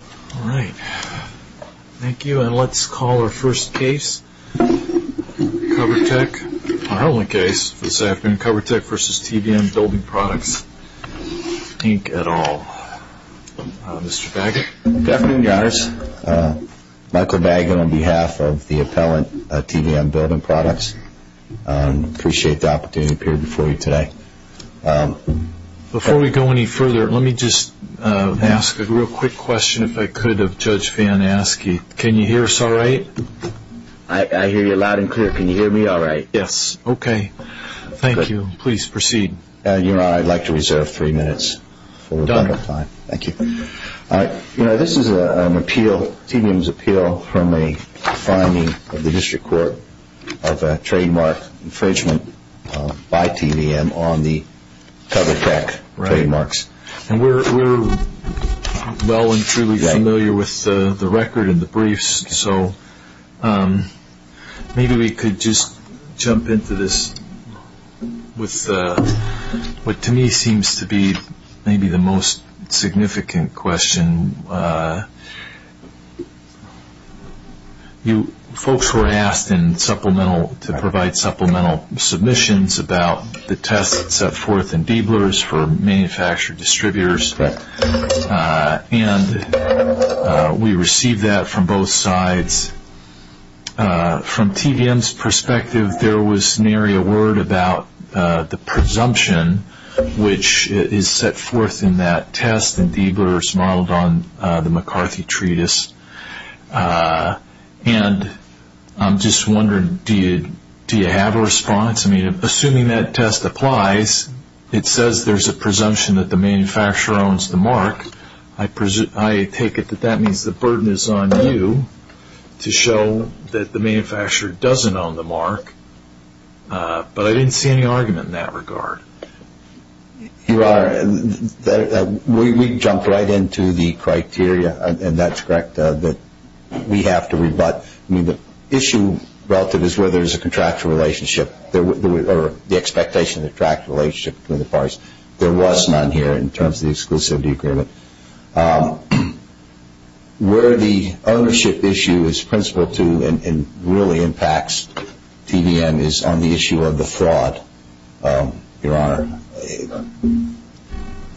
All right. Thank you. And let's call our first case, Covertech. Our only case this afternoon, Covertech v. TVM Building Products, Inc., etal. Mr. Baggett. Good afternoon, guys. Michael Baggett on behalf of the appellant, TVM Building Products. Appreciate the opportunity to appear before you today. Before we go any further, let me just ask a real quick question, if I could, of Judge Van Aske. Can you hear us all right? I hear you loud and clear. Can you hear me all right? Yes. Okay. Thank you. Please proceed. Your Honor, I'd like to reserve three minutes. Done. Thank you. You know, this is an appeal, TVM's appeal, from a finding of the district court of a trademark infringement by TVM on the Covertech trademarks. And we're well and truly familiar with the record and the briefs, So maybe we could just jump into this with what to me seems to be maybe the most significant question. Folks were asked to provide supplemental submissions about the tests and so forth for manufacturer distributors. And we received that from both sides. From TVM's perspective, there was nary a word about the presumption, which is set forth in that test and D-blurs modeled on the McCarthy Treatise. And I'm just wondering, do you have a response? Yes. I mean, assuming that test applies, it says there's a presumption that the manufacturer owns the mark. I take it that that means the burden is on you to show that the manufacturer doesn't own the mark. But I didn't see any argument in that regard. Your Honor, we jumped right into the criteria, and that's correct, that we have to rebut. The issue relative is whether there's a contractual relationship or the expectation of contractual relationship. There was none here in terms of the exclusivity agreement. Where the ownership issue is principled to and really impacts TVM is on the issue of the fraud, Your Honor.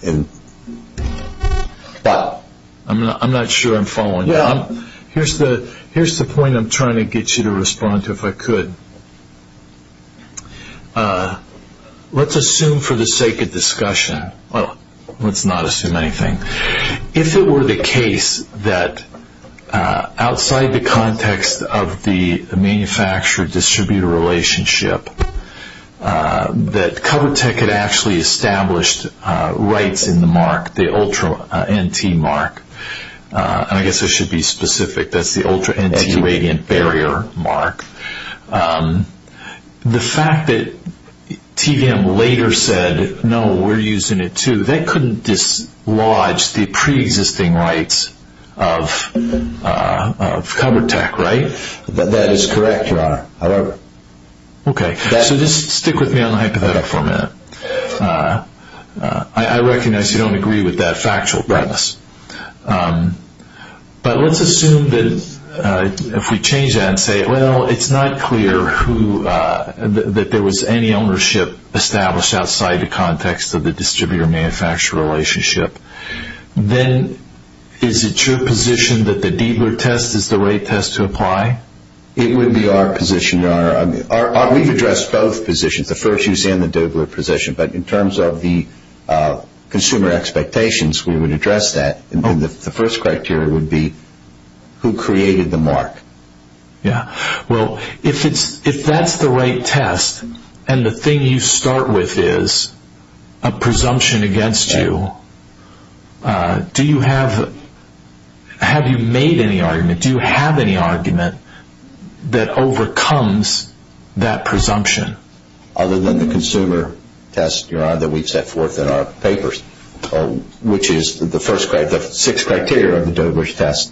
I'm not sure I'm following that. Here's the point I'm trying to get you to respond to if I could. Let's assume for the sake of discussion. Well, let's not assume anything. If it were the case that outside the context of the manufacturer-distributor relationship, that CoverTech had actually established rights in the mark, the Ultra NT mark. I guess I should be specific. That's the Ultra NT radiant barrier mark. The fact that TVM later said, no, we're using it too, that couldn't dislodge the preexisting rights of CoverTech, right? That is correct, Your Honor, however. Okay, so just stick with me on the hypothetical for a minute. I recognize you don't agree with that factual premise. But let's assume that if we change that and say, well, it's not clear that there was any ownership established outside the context of the distributor-manufacturer relationship. Then is it your position that the Deibert test is the right test to apply? It would be our position, Your Honor. We've addressed both positions, the first use and the Deibert position. But in terms of the consumer expectations, we would address that. The first criteria would be who created the mark. Well, if that's the right test and the thing you start with is a presumption against you, have you made any argument? Do you have any argument that overcomes that presumption? Other than the consumer test, Your Honor, that we've set forth in our papers, which is the first criteria, the sixth criteria of the Deibert test,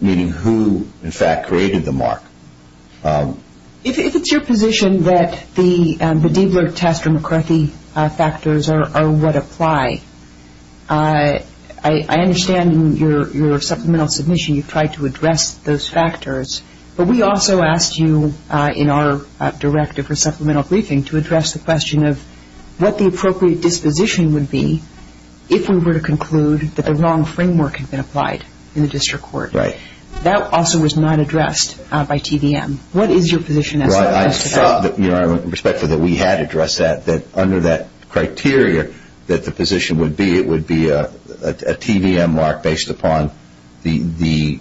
meaning who, in fact, created the mark. Is it your position that the Deibert test and McCarthy factors are what apply? I understand in your supplemental submission you've tried to address those factors. But we also asked you in our directive for supplemental briefing to address the question of what the appropriate disposition would be if we were to conclude that the wrong framework had been applied in the district court. Right. That also was not addressed by TVM. Your Honor, I felt that in respect to that we had addressed that, that under that criteria that the position would be, it would be a TVM mark based upon the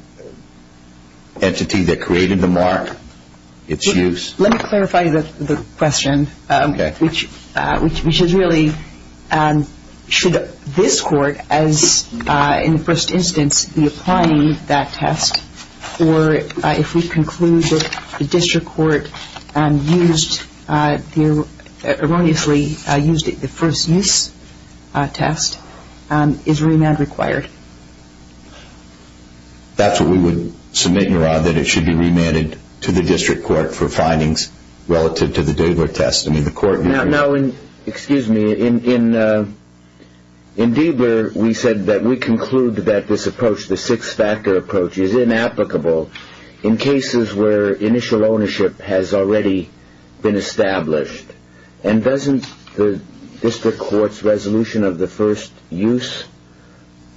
entity that created the mark, its use. Let me clarify the question, which is really should this court, in the first instance, be applying that test, or if we conclude that the district court used, erroneously used it, the first use test, is remand required? That's what we would submit, Your Honor, that it should be remanded to the district court for findings relative to the Deibert test. Now, excuse me, in Deibert we said that we conclude that this approach, the six-factor approach, is inapplicable in cases where initial ownership has already been established. And doesn't the district court's resolution of the first use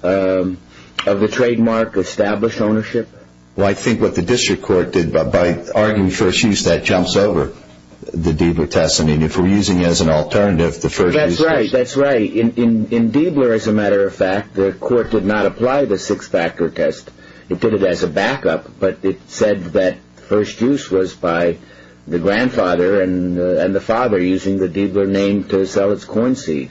of the trademark establish ownership? Well, I think what the district court did by arguing first use, that jumps over the Deibert test. I mean, if we're using it as an alternative, the first use test. That's right. That's right. In Deibert, as a matter of fact, the court did not apply the six-factor test. It did it as a backup, but it said that first use was by the grandfather and the father using the Deibert name to sell its corn seed.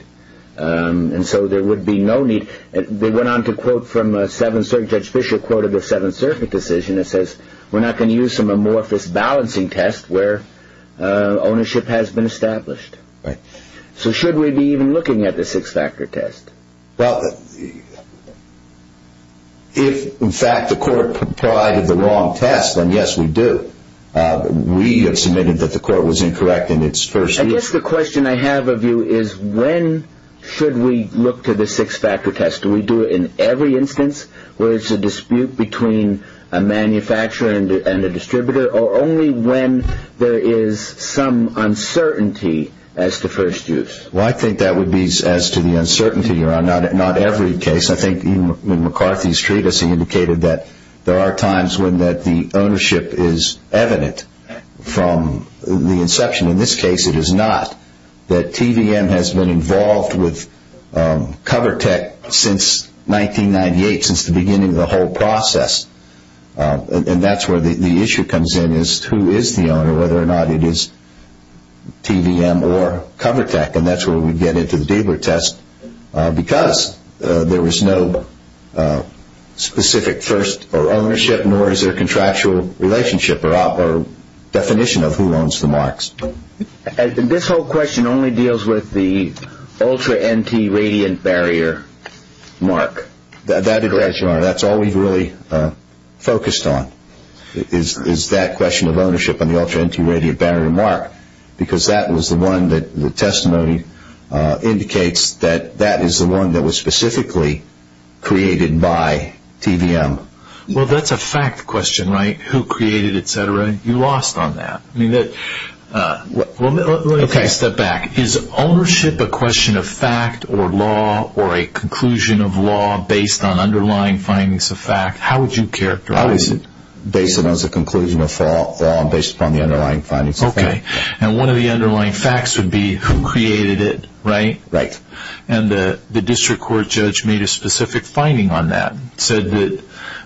And so there would be no need. They went on to quote from Seventh Circuit Judge Fischer, quoted the Seventh Circuit decision that says, we're not going to use some amorphous balancing test where ownership has been established. Right. So should we be even looking at the six-factor test? Well, if, in fact, the court provided the wrong test, then yes, we do. We have submitted that the court was incorrect in its first use. I guess the question I have of you is when should we look to the six-factor test? Do we do it in every instance where there's a dispute between a manufacturer and a distributor or only when there is some uncertainty as to first use? Well, I think that would be as to the uncertainty. Not every case. I think McCarthy's treatise indicated that there are times when the ownership is evident from the inception. In this case, it is not. The TVM has been involved with CoverTech since 1998, since the beginning of the whole process. And that's where the issue comes in is who is the owner, whether or not it is TVM or CoverTech, and that's where we get into the Deibert test because there is no specific first ownership nor is there contractual relationship or definition of who owns the marks. This whole question only deals with the ultra NT radiant barrier mark. That's right, Your Honor. That's all we've really focused on is that question of ownership on the ultra NT radiant barrier mark because that was the one that the testimony indicates that that is the one that was specifically created by TVM. Well, that's a fact question, right? Who created it, et cetera? You lost on that. Step back. Is ownership a question of fact or law or a conclusion of law based on underlying findings of fact? How would you characterize it? Based on the conclusion of law and based on the underlying findings of fact. Okay. And one of the underlying facts would be who created it, right? Right. And the district court judge made a specific finding on that, said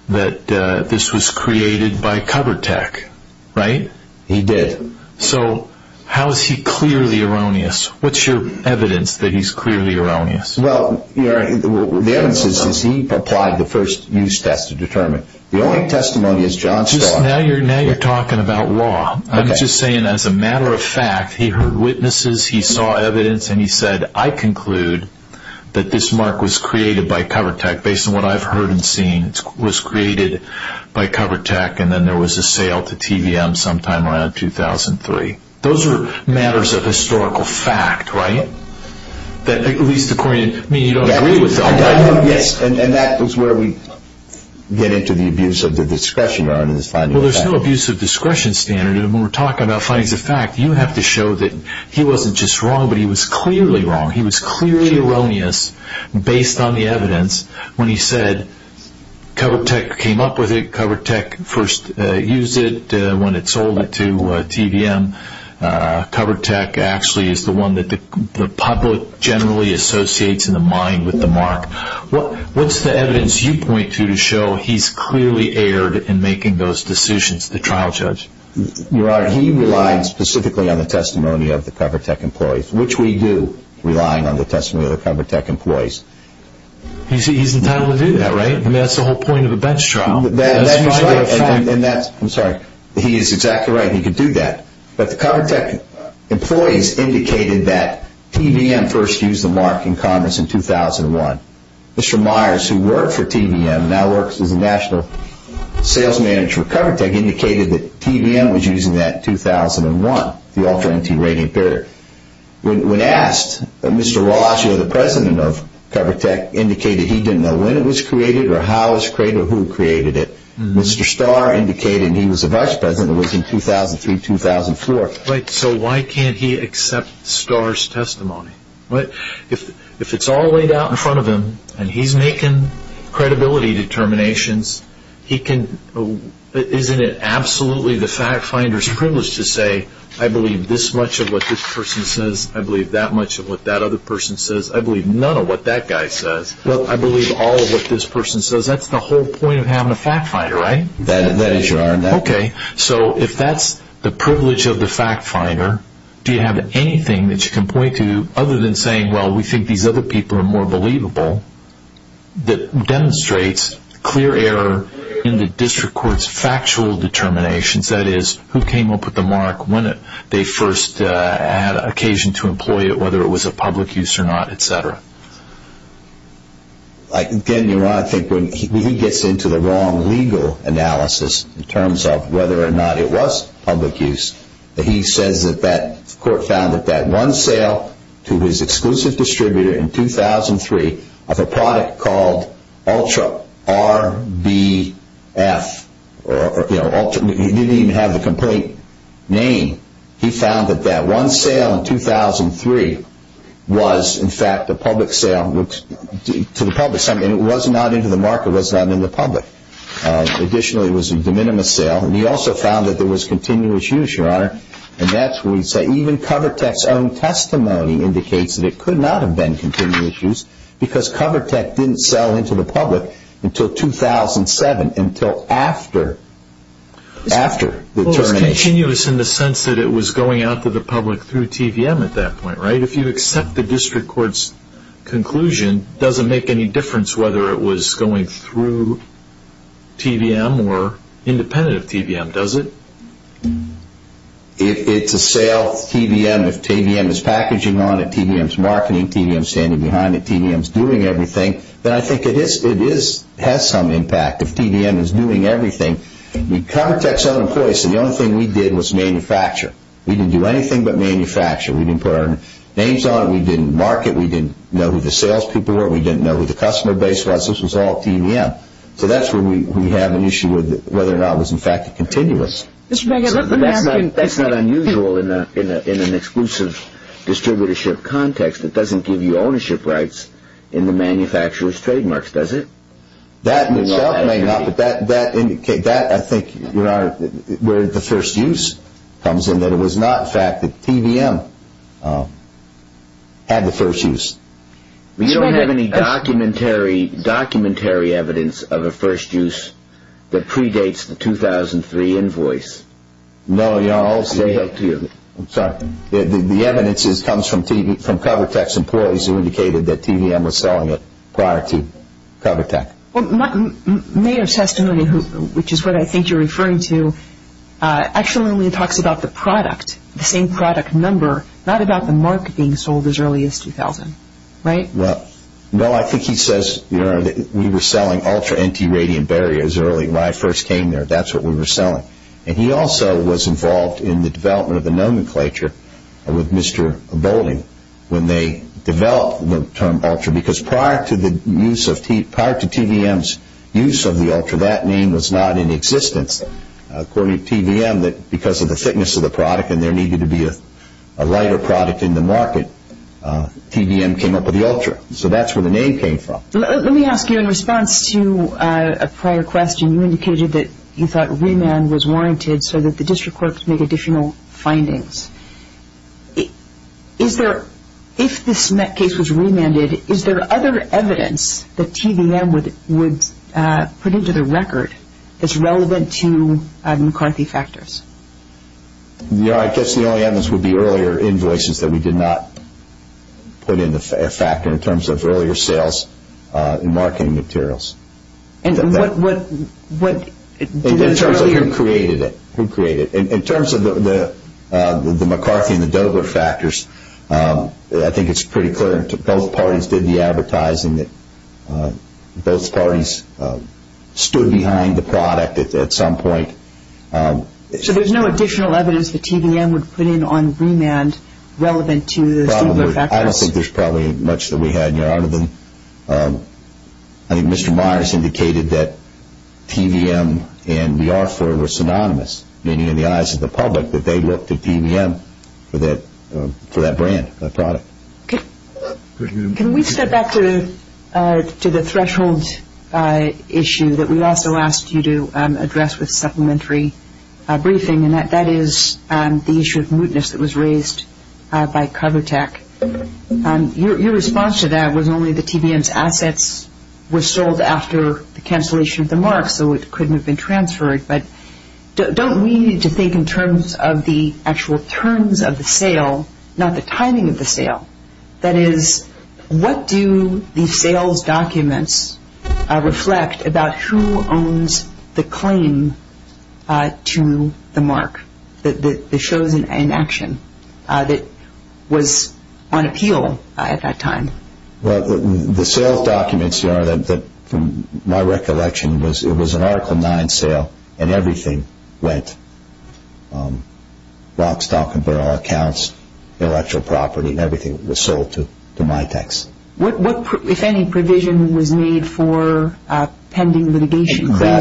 that this was created by CoverTech, right? He did. So how is he clearly erroneous? What's your evidence that he's clearly erroneous? Well, the evidence is he applied the first use test to determine it. The only testimony is John Scott. Now you're talking about law. I'm just saying as a matter of fact, he heard witnesses, he saw evidence, and he said, I conclude that this mark was created by CoverTech based on what I've heard and seen. It was created by CoverTech, and then there was a sale to TVM sometime around 2003. Those are matters of historical fact, right? At least according to me, you don't agree with that. Yes, and that was where we get into the abuse of the discretion. Well, there's no abuse of discretion standard. When we're talking about finding the fact, you have to show that he wasn't just wrong, but he was clearly wrong. He was clearly erroneous based on the evidence when he said CoverTech came up with it, CoverTech first used it when it sold it to TVM. CoverTech actually is the one that the public generally associates in the mind with the mark. What's the evidence you point to to show he's clearly erred in making those decisions, the trial judge? Your Honor, he relies specifically on the testimony of the CoverTech employees, which we do rely on the testimony of the CoverTech employees. You see, he's entitled to do that, right? I mean, that's the whole point of a bench trial. I'm sorry. He is exactly right. He can do that. But the CoverTech employees indicated that TVM first used the mark in Congress in 2001. Mr. Myers, who worked for TVM, now works as a national sales manager for CoverTech, indicated that TVM was using that in 2001, the alternative rating period. When asked, Mr. Ross, who was the president of CoverTech, indicated he didn't know when it was created or how it was created or who created it. Mr. Starr indicated he was the vice president. It was in 2003-2004. So why can't he accept Starr's testimony? If it's all laid out in front of him and he's making credibility determinations, isn't it absolutely the fact finder's privilege to say, I believe this much of what this person says, I believe that much of what that other person says, I believe none of what that guy says, I believe all of what this person says. Because that's the whole point of having a fact finder, right? That is your argument. Okay. So if that's the privilege of the fact finder, do you have anything that you can point to other than saying, well, we think these other people are more believable, that demonstrates clear error in the district court's factual determinations, that is, who came up with the mark, when they first had occasion to employ it, whether it was a public use or not, et cetera? Again, you're right. I think when he gets into the wrong legal analysis in terms of whether or not it was public use, he said that that court found that that one sale to his exclusive distributor in 2003 of a product called Ultra RBF, or, you know, he didn't even have the complete name. He found that that one sale in 2003 was, in fact, a public sale to the public, and it was not into the market, was not in the public. Additionally, it was a de minimis sale. And he also found that there was continuous use, Your Honor, and that's where he said, even Covertech's own testimony indicates that it could not have been continuous use, because Covertech didn't sell into the public until 2007, until after the termination. It was continuous in the sense that it was going out to the public through TVM at that point, right? If you accept the district court's conclusion, it doesn't make any difference whether it was going through TVM or independent of TVM, does it? If it's a sale, TVM is packaging on it, TVM is marketing, TVM is standing behind it, TVM is doing everything, then I think it has some impact if TVM is doing everything. In the context of employers, the only thing we did was manufacture. We didn't do anything but manufacture. We didn't put our names on it. We didn't market. We didn't know who the salespeople were. We didn't know who the customer base was. This was all TVM. So that's where we have an issue with whether or not it was, in fact, continuous. That's not unusual in an exclusive distributorship context. It doesn't give you ownership rights in the manufacturer's trademarks, does it? That may or may not, but I think that's where the first use comes in, that it was not, in fact, that TVM had the first use. Do you have any documentary evidence of a first use that predates the 2003 invoice? No. I'm sorry. The evidence comes from CoverTech's employees who indicated that TVM was selling it prior to CoverTech. Mayor Sastroni, which is what I think you're referring to, actually only talks about the product, the same product number, not about the mark being sold as early as 2000, right? Right. No, I think he says we were selling ultra-empty radiant barriers early when I first came there. That's what we were selling. And he also was involved in the development of the nomenclature with Mr. Boulding when they developed the term ultra because prior to TVM's use of the ultra, that name was not in existence. According to TVM, because of the thickness of the product and there needed to be a lighter product in the market, TVM came up with the ultra. So that's where the name came from. Let me ask you in response to a prior question. You indicated that you thought remand was warranted so that the district courts make additional findings. If this case was remanded, is there other evidence that TVM would put into the record that's relevant to McCarthy factors? No, I guess the only evidence would be earlier invoices that we did not put in a factor in terms of earlier sales in marketing materials. And what- In terms of who created it. In terms of the McCarthy and the Dover factors, I think it's pretty clear that both parties did the advertising, that both parties stood behind the product at some point. So there's no additional evidence that TVM would put in on remand relevant to- I don't think there's probably much that we had out of them. I think Mr. Myers indicated that TVM and the offeror were synonymous, meaning in the eyes of the public that they looked to TVM for that brand, that product. Can we step back to the threshold issue that we also asked you to address with supplementary briefing, and that is the issue of mootness that was raised by CoverTech. Your response to that was only the TVM's assets were sold after the cancellation of the mark, so it couldn't have been transferred. But don't we need to think in terms of the actual terms of the sale, not the timing of the sale? That is, what do the sales documents reflect about who owns the claim to the mark, the show and action that was on appeal at that time? Well, the sale documents, from my recollection, it was an Article 9 sale, and everything went, lock, stock and barrel, accounts, intellectual property, everything was sold to my tax. What, if any, provision was made for pending litigation? I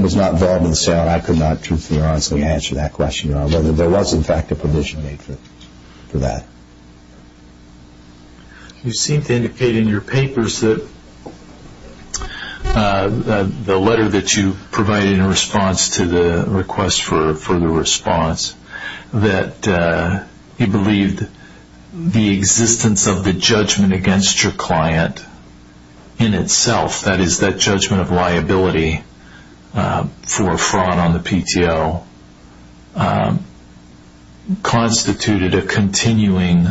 was not involved in the sale. I could not truthfully and honestly answer that question. There was, in fact, a provision made for that. You seem to indicate in your papers that the letter that you provided in response to the request for the response, that you believed the existence of the judgment against your client in itself, that is, that judgment of liability for fraud on the PTO, constituted a continuing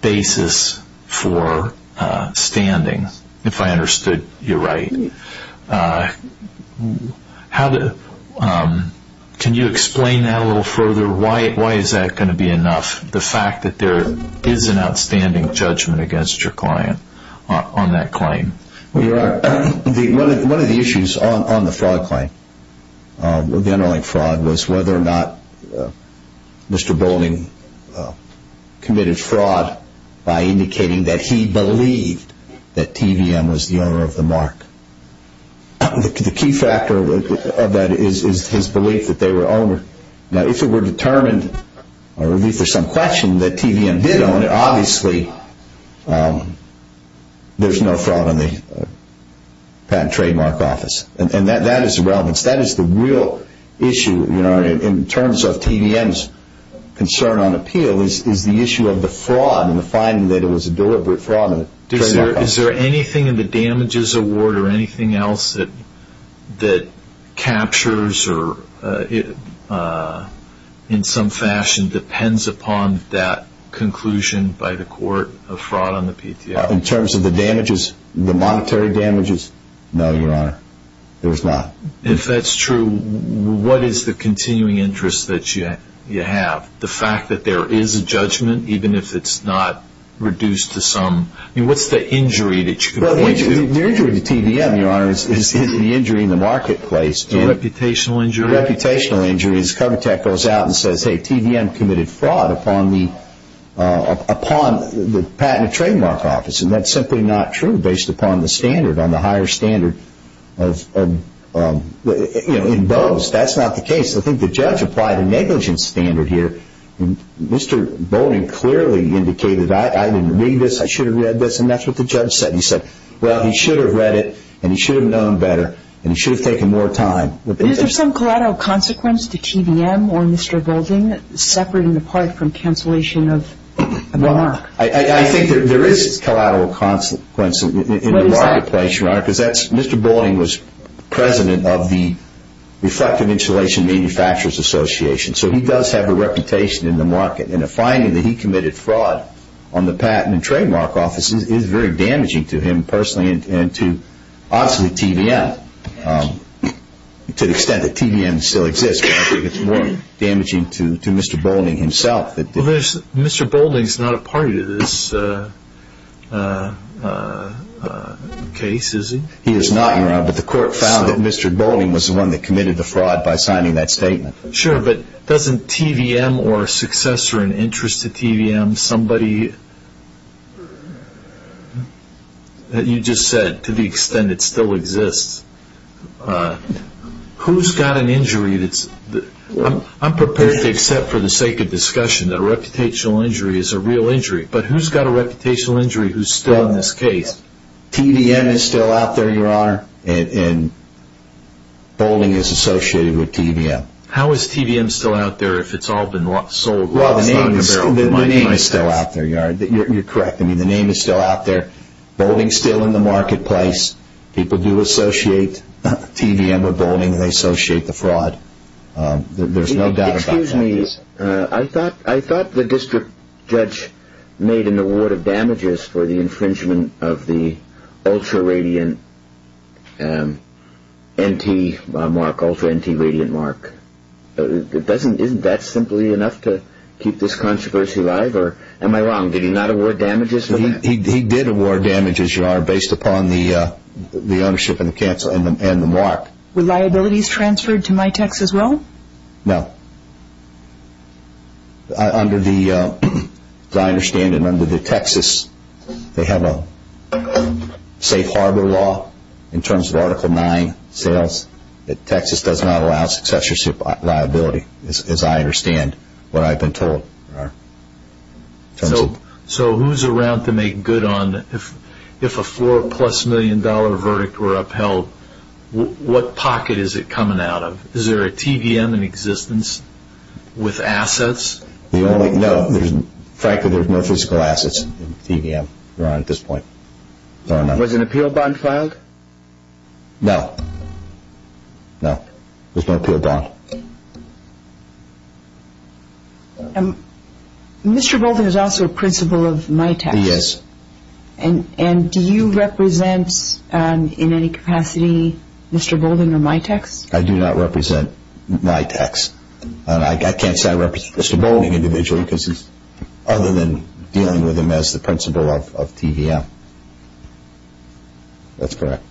basis for standing, if I understood you right. Can you explain that a little further? Why is that going to be enough, the fact that there is an outstanding judgment against your client on that claim? Well, one of the issues on the fraud claim was whether or not Mr. Boulding committed fraud by indicating that he believed that TVM was the owner of the mark. The key factor of that is his belief that they were owner. Now, if it were determined, or at least there's some question that TVM did own it, obviously there's no fraud on the patent trademark office. And that is the real issue in terms of TVM's concern on appeal, is the issue of the fraud and the finding that it was a deliberate fraud. Is there anything in the damages award or anything else that captures or, in some fashion, depends upon that conclusion by the court of fraud on the PTO? In terms of the damages, the monetary damages, no, Your Honor, there's not. If that's true, what is the continuing interest that you have? The fact that there is a judgment, even if it's not reduced to some... I mean, what's the injury that you can point to? Well, the injury to TVM, Your Honor, is the injury in the marketplace. The reputational injury? The reputational injury is Covetech goes out and says, hey, TVM committed fraud upon the patent trademark office, and that's simply not true based upon the standard, on the higher standard. In those, that's not the case. I think the judge applied a negligence standard here. Mr. Boulding clearly indicated that. I didn't read this. I should have read this, and that's what the judge said. He said, well, he should have read it, and he should have known better, and he should have taken more time. Is there some collateral consequence to TVM or Mr. Boulding, separate and apart from cancellation of the mark? I think there is collateral consequence in the marketplace, Your Honor, because Mr. Boulding was president of the Reflective Insulation Manufacturers Association, so he does have a reputation in the market, and the finding that he committed fraud on the patent and trademark office is very damaging to him personally and to, obviously, TVM, to the extent that TVM still exists. It's more damaging to Mr. Boulding himself. Mr. Boulding is not a party to this case, is he? He is not, Your Honor, but the court found that Mr. Boulding was the one that committed the fraud by signing that statement. Sure, but doesn't TVM or a successor in interest to TVM, somebody that you just said, to the extent it still exists, who's got an injury that's – I'm prepared to accept for the sake of discussion that a reputational injury is a real injury, but who's got a reputational injury who's still in this case? TVM is still out there, Your Honor, and Boulding is associated with TVM. How is TVM still out there if it's all been sold? Well, the name is still out there, Your Honor. You're correct. I mean, the name is still out there. Boulding's still in the marketplace. People do associate TVM with Boulding. They associate the fraud. There's no doubt about that. Excuse me. I thought the district judge made an award of damages for the infringement of the ultra-radiant NT mark, ultra-NT radiant mark. Isn't that simply enough to keep this controversy alive, or am I wrong? Did he not award damages? He did award damages, Your Honor, based upon the ownership and the mark. Were liabilities transferred to MITEX as well? No. As I understand it, under the Texas, they have a safe harbor law in terms of Article IX sales. Texas does not allow successorship liability, as I understand what I've been told, Your Honor. So who's around to make good on, if a four-plus-million-dollar verdict were upheld, what pocket is it coming out of? Is there a TVM in existence with assets? No. Frankly, there's no physical assets in TVM, Your Honor, at this point. Was an appeal bond filed? No. No. There's no appeal bond. No. Mr. Bolden is also a principal of MITEX. He is. And do you represent in any capacity Mr. Bolden or MITEX? I do not represent MITEX. I can't say I represent Mr. Bolden individually, other than dealing with him as the principal of TVM. That's correct.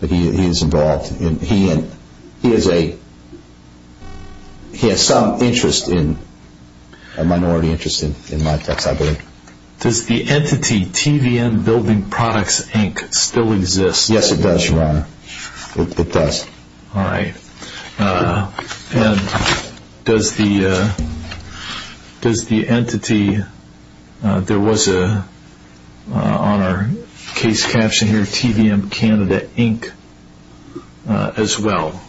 But he is involved. He has some interest in MITEX, I believe. Does the entity TVM Building Products, Inc. still exist? Yes, it does, Your Honor. It does. All right. And does the entity, there was on our case caption here, TVM Canada, Inc., as well.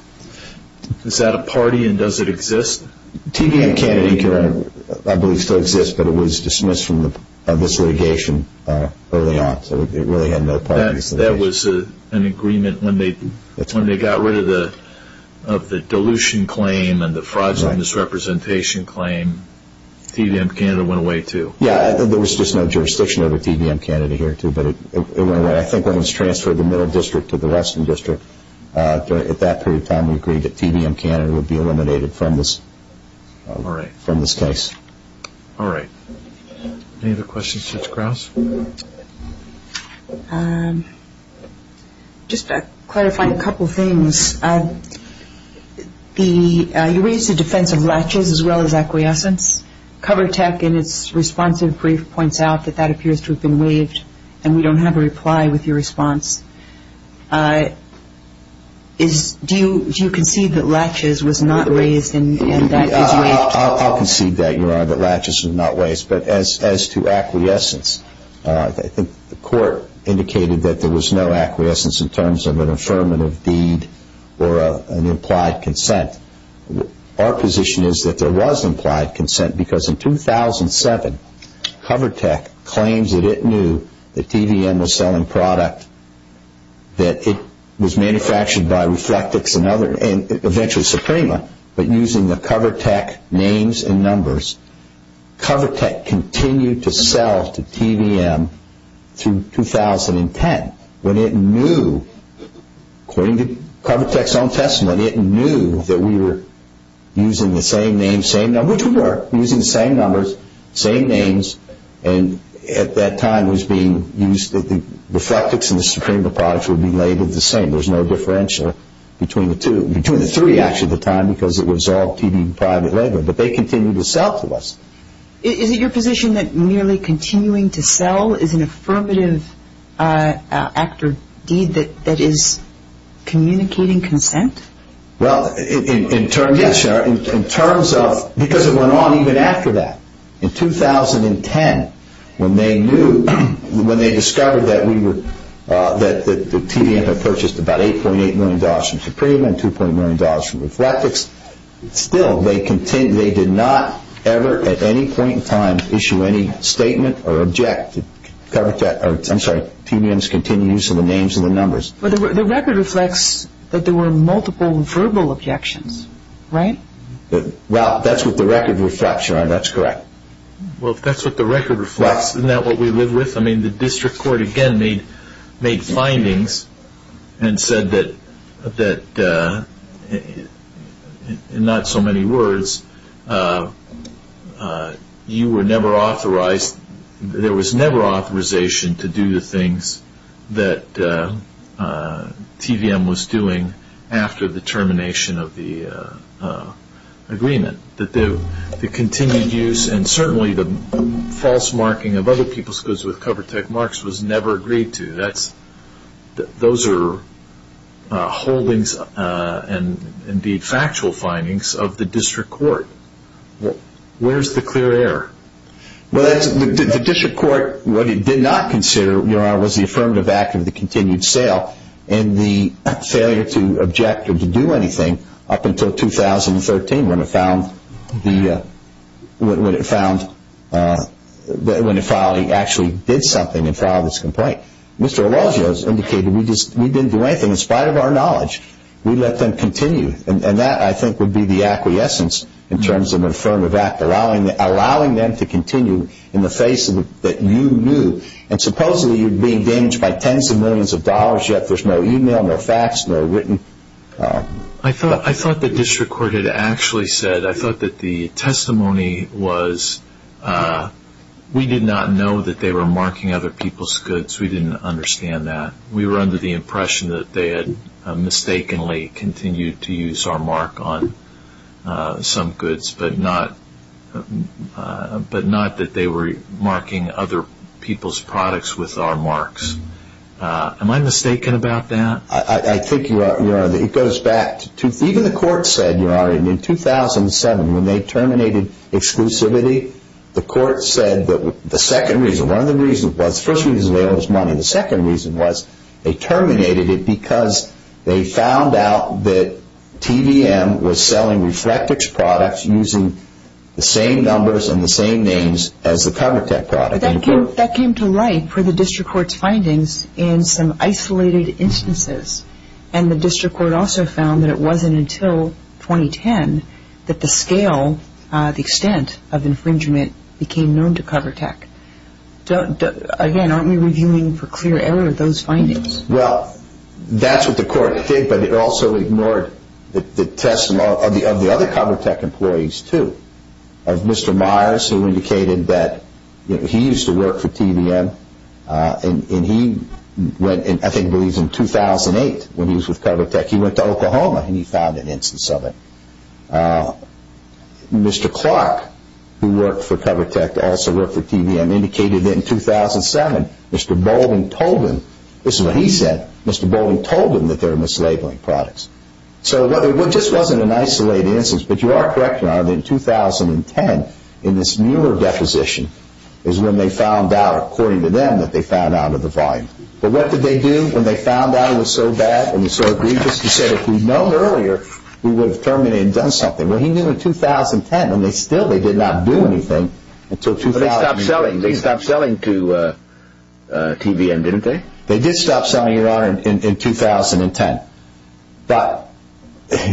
Is that a party and does it exist? TVM Canada, I believe, still exists, but it was dismissed from this litigation early on, so it really had no party or association. That was an agreement when they got rid of the dilution claim and the fraudulent misrepresentation claim. TVM Canada went away, too. Yeah, and there was just no jurisdiction over TVM Canada here, too, but it went away. I think it was transferred to the Middle District to the Western District. At that period of time, we agreed that TVM Canada would be eliminated from this case. All right. Any other questions, Mr. Krause? Just clarifying a couple things. You raised the defense of latches as well as acquiescence. CoverTech in its response in brief points out that that appears to have been waived, and we don't have a reply with your response. Do you concede that latches was not waived and that was waived? I'll concede that, Your Honor, that latches was not waived. But as to acquiescence, I think the court indicated that there was no acquiescence in terms of an affirmative deed or an implied consent. Our position is that there was implied consent because in 2007, CoverTech claimed that it knew that TVM was selling product, that it was manufactured by Reflectix and eventually Suprema, but using the CoverTech names and numbers. CoverTech continued to sell to TVM to 2010 when it knew, according to CoverTech's own testimony, it knew that we were using the same names, same numbers, which we were using the same numbers, same names, and at that time it was being used that the Reflectix and the Suprema products were being rated the same. There's no differential between the three, actually, at the time because it was all TVM private label, but they continued to sell to us. Is it your position that merely continuing to sell is an affirmative act or deed that is communicating consent? Well, in terms of, because it went on even after that. In 2010, when they discovered that TVM had purchased about $8.8 million from Suprema and $2.9 million from Reflectix, still they did not ever at any point in time issue any statement or object to TVM's continued use of the names and the numbers. But the record reflects that there were multiple verbal objections, right? Well, that's what the record reflects. That's correct. Well, that's what the record reflects. Isn't that what we live with? I mean, the district court, again, made findings and said that, in not so many words, you were never authorized, there was never authorization to do the things that TVM was doing after the termination of the agreement. That the continued use and certainly the false marking of other people's goods with CoverTech marks was never agreed to. Those are holdings and, indeed, factual findings of the district court. Where's the clear error? Well, the district court, what it did not consider, Your Honor, was the affirmative act of the continued sale and the failure to object or to do anything up until 2013 when it found, when it finally actually did something and filed this complaint. Mr. Araujo has indicated we didn't do anything. In spite of our knowledge, we let them continue. And that, I think, would be the acquiescence in terms of an affirmative act, allowing them to continue in the face that you knew. And supposedly, you're being damaged by tens of millions of dollars, yet there's no e-mail, no fax, no written. I thought the district court had actually said, I thought that the testimony was, we did not know that they were marking other people's goods. We didn't understand that. We were under the impression that they had mistakenly continued to use our mark on some goods, but not that they were marking other people's products with our marks. Am I mistaken about that? I think you are, Your Honor. It goes back to even the court said, Your Honor, in 2007 when they terminated exclusivity, the court said that the second reason, one of the reasons was, the first reason was they lost money. And the second reason was they terminated it because they found out that TDM was selling Reflectix products using the same numbers and the same names as the CoverTech product. That came to light for the district court's findings in some isolated instances. And the district court also found that it wasn't until 2010 that the scale, the extent of infringement became known to CoverTech. Again, aren't we reviewing for clear error those findings? Well, that's what the court did, but it also ignored the testimony of the other CoverTech employees, too. Mr. Myers, who indicated that he used to work for TDM, and he went, I think it was in 2008 when he was with CoverTech, he went to Oklahoma and he found an instance of it. Mr. Clark, who worked for CoverTech, also worked for TDM, indicated that in 2007 Mr. Bolden told them, this is what he said, Mr. Bolden told them that they were mislabeling products. So it just wasn't an isolated instance, but you are correct, Your Honor, that in 2010 in this newer deposition is when they found out, according to them, that they found out of the volume. But what did they do when they found out it was so bad and so dangerous? He said if we'd known earlier, we would have terminated and done something. Well, he knew in 2010, and still they did not do anything until 2010. They stopped selling to TDM, didn't they? They did stop selling, Your Honor, in 2010. But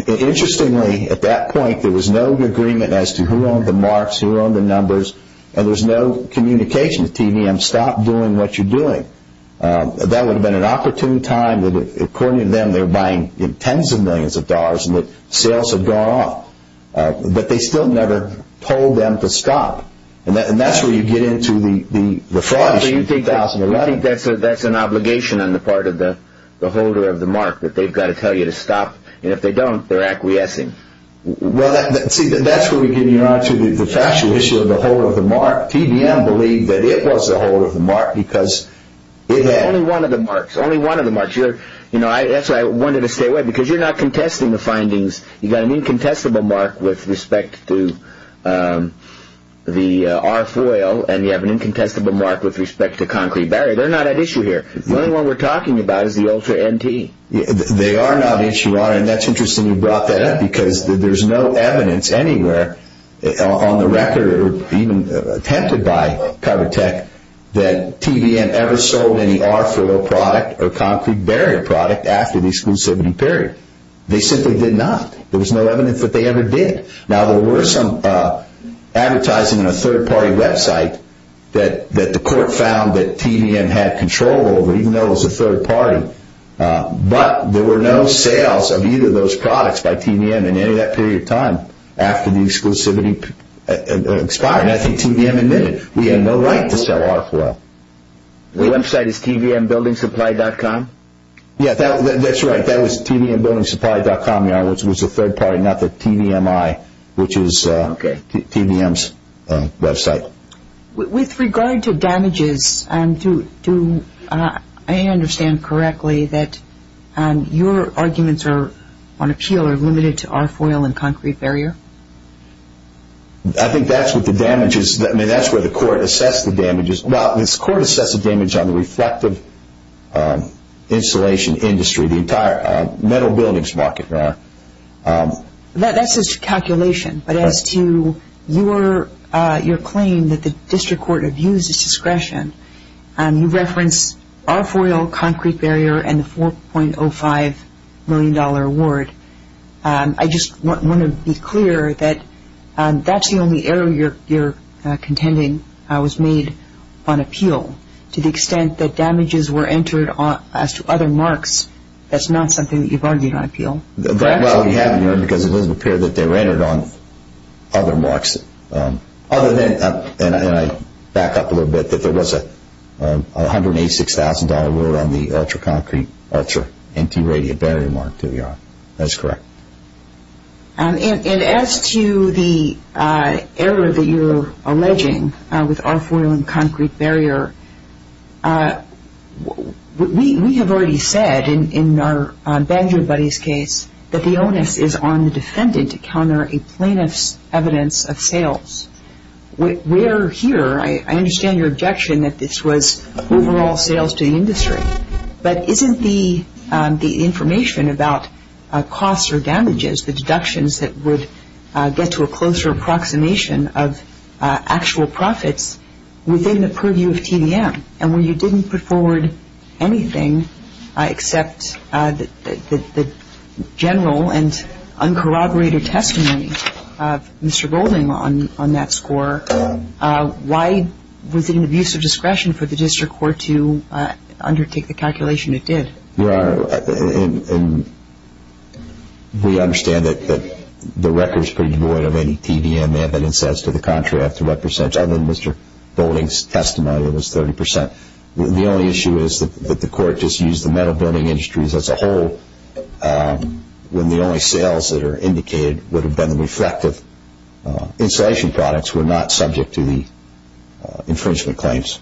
interestingly, at that point there was no agreement as to who owned the marks, who owned the numbers, and there was no communication. TDM stopped doing what you're doing. That would have been an opportune time. According to them, they were buying tens of millions of dollars and the sales had gone up. But they still never told them to stop. And that's where you get into the fraud issue. So you think that's an obligation on the part of the holder of the mark, that they've got to tell you to stop, and if they don't, they're acquiescing. Well, see, that's where we get into the factual issue of the holder of the mark. TDM believed that it was the holder of the mark because it had... Only one of the marks, only one of the marks. You know, that's why I wanted to stay away, because you're not contesting the findings. You've got an incontestable mark with respect to the RFOIL, and you have an incontestable mark with respect to Concrete Barrier. They're not at issue here. The only one we're talking about is the Ultra NT. They are not at issue, Your Honor, and that's interesting you brought that up, because there's no evidence anywhere on the record, or even attempted by KyberTech, that TDM ever sold any RFOIL product or Concrete Barrier product after the exclusivity period. They simply did not. There was no evidence that they ever did. Now, there were some advertising on a third-party website that the court found that TDM had control over, even though it was a third party. But there were no sales of either of those products by TDM in any of that period of time after the exclusivity expired, and I think TDM admitted we had no right to sell RFOIL. The website is tdmbuildingsupply.com? Yeah, that's right. That was tdmbuildingsupply.com, Your Honor, which was a third party, not the TDMI, which is TDM's website. With regard to damages, do I understand correctly that your arguments on appeal are limited to RFOIL and Concrete Barrier? I think that's what the damage is. I mean, that's where the court assessed the damages. Well, the court assessed the damage on the reflective insulation industry, the entire metal buildings market. That's a calculation. But as to your claim that the district court abused its discretion, you referenced RFOIL, Concrete Barrier, and the $4.05 million award. I just want to be clear that that's the only area your contending was made on appeal. To the extent that damages were entered on other marks, that's not something that you've argued on appeal? Well, we haven't, Your Honor, because it doesn't appear that they were entered on other marks. Other than, and I back up a little bit, that there was a $186,000 award on the ultra-concrete, ultra-empty radiant barrier mark that we are. That's correct. And as to the error that you are alleging with RFOIL and Concrete Barrier, we have already said in our Banjo Buddies case that the onus is on the defendant to counter a plaintiff's evidence of sales. We are here. I understand your objection that this was overall sales to the industry. But isn't the information about costs or damages, the deductions that would get to a closer approximation of actual profits, within the purview of TVM? And when you didn't put forward anything except the general and uncorroborated testimony, Mr. Boulding, on that score, why was it an abuse of discretion for the district court to undertake the calculation it did? Your Honor, we understand that the record is pretty void of any TVM evidence as to the contract to represent other than Mr. Boulding's testimony that was 30%. The only issue is that the court just used the metal building industries as a whole when the only sales that are indicated would have been reflective installation products were not subject to the infringement claims.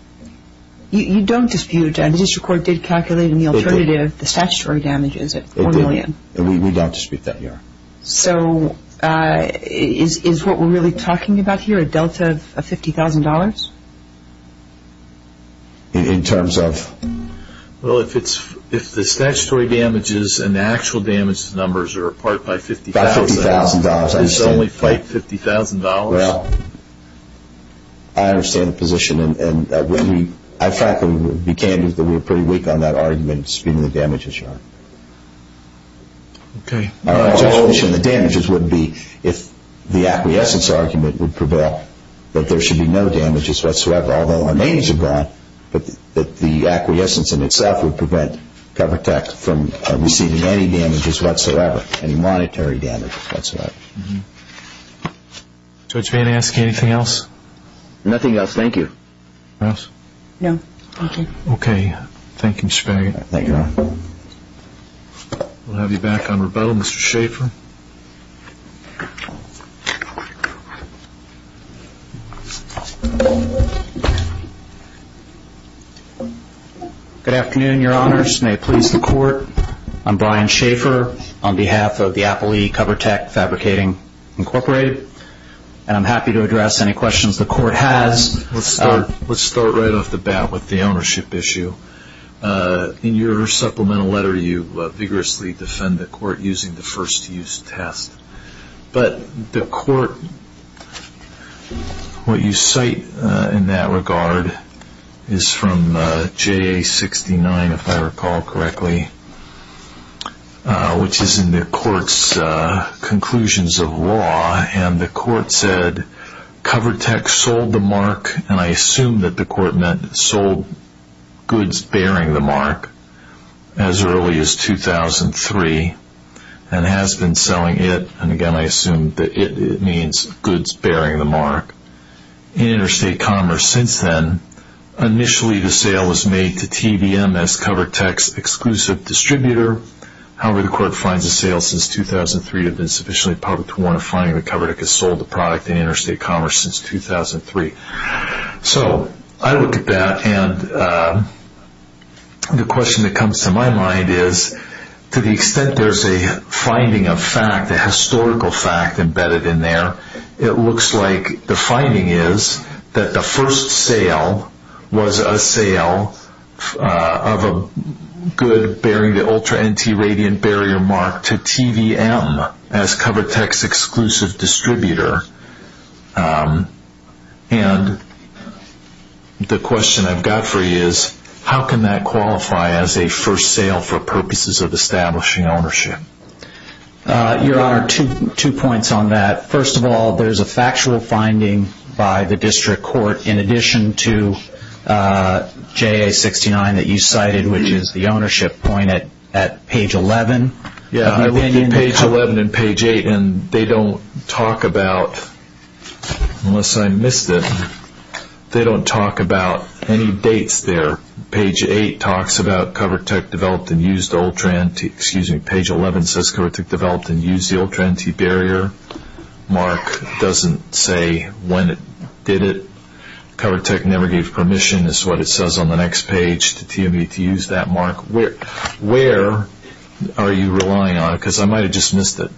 You don't dispute it. The district court did calculate in the alternative the statutory damages. We don't dispute that, Your Honor. So is what we're really talking about here a delta of $50,000? In terms of? Well, if the statutory damages and the actual damage numbers are apart by $50,000, it's only $50,000. Well, I understand the position. And I frankly became pretty weak on that argument, speaking of damages, Your Honor. Okay. My position on the damages would be if the acquiescence argument would prevail, that there should be no damages whatsoever. Although our names are brought, but the acquiescence in itself would prevent cover tax from receiving any damages whatsoever, any monetary damages whatsoever. Mm-hmm. Judge Van Asken, anything else? Nothing else. Thank you. Ross? No. Thank you. Okay. Thank you, Mr. Barry. Thank you, Your Honor. We'll have you back on rebuttal, Mr. Schaffer. Good afternoon, Your Honors. May it please the Court. I'm Brian Schaffer on behalf of the Applee Cover Tax Advocating Incorporated. And I'm happy to address any questions the Court has. Let's start right off the bat with the ownership issue. In your supplemental letter, you vigorously defend the Court using the first-use test. But the Court, what you cite in that regard is from JA69, if I recall correctly, which is in the Court's conclusions of law. And the Court said cover tax sold the mark, and I assume that the Court meant sold goods bearing the mark as early as 2003, and has been selling it, and, again, I assume that it means goods bearing the mark, in interstate commerce since then. Initially, the sale was made to TVMS Cover Tax Exclusive Distributor. However, the Court finds the sale since 2003 to have been sufficiently public to want to find the cover that could have sold the product in interstate commerce since 2003. So I look at that, and the question that comes to my mind is, to the extent there's a finding of fact, a historical fact embedded in there, it looks like the finding is that the first sale was a sale of a good bearing the ultra-anti-radiant barrier mark to TVM as Cover Tax Exclusive Distributor. And the question I've got for you is, how can that qualify as a first sale for purposes of establishing ownership? Your Honor, two points on that. First of all, there's a factual finding by the District Court in addition to JA69 that you cited, which is the ownership point at page 11. I'm reading page 11 and page 8, and they don't talk about, unless I missed it, they don't talk about any dates there. Page 8 talks about Cover Tech developed and used the ultra-anti- excuse me, page 11 says Cover Tech developed and used the ultra-anti-barrier mark. It doesn't say when it did it. Cover Tech never gave permission is what it says on the next page to TVM to use that mark. Where are you relying on? Because I might have just missed it.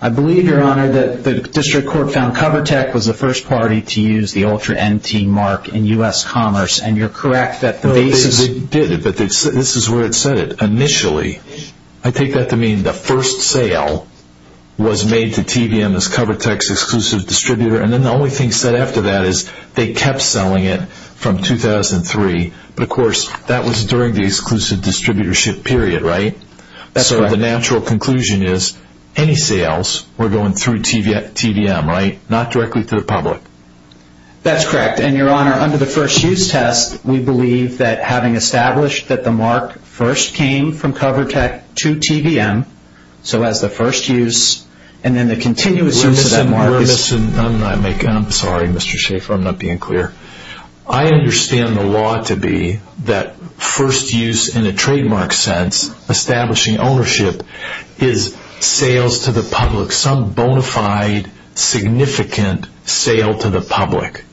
I believe, Your Honor, that the District Court found Cover Tech was the first party to use the ultra-anti-mark in U.S. commerce, and you're correct that the basis- They did it, but this is where it said it. Initially, I take that to mean the first sale was made to TVM as Cover Tax Exclusive Distributor, and then the only thing said after that is they kept selling it from 2003. But, of course, that was during the exclusive distributorship period, right? That's correct. So the natural conclusion is any sales were going through TVM, right? Not directly through the public. That's correct, and, Your Honor, under the first use test, we believe that having established that the mark first came from Cover Tech to TVM, so as the first use, and then the continuous use of that mark- We're missing, I'm sorry, Mr. Schaefer, I'm not being clear. I understand the law to be that first use in a trademark sense, establishing ownership, is sales to the public, some bona fide, significant sale to the public.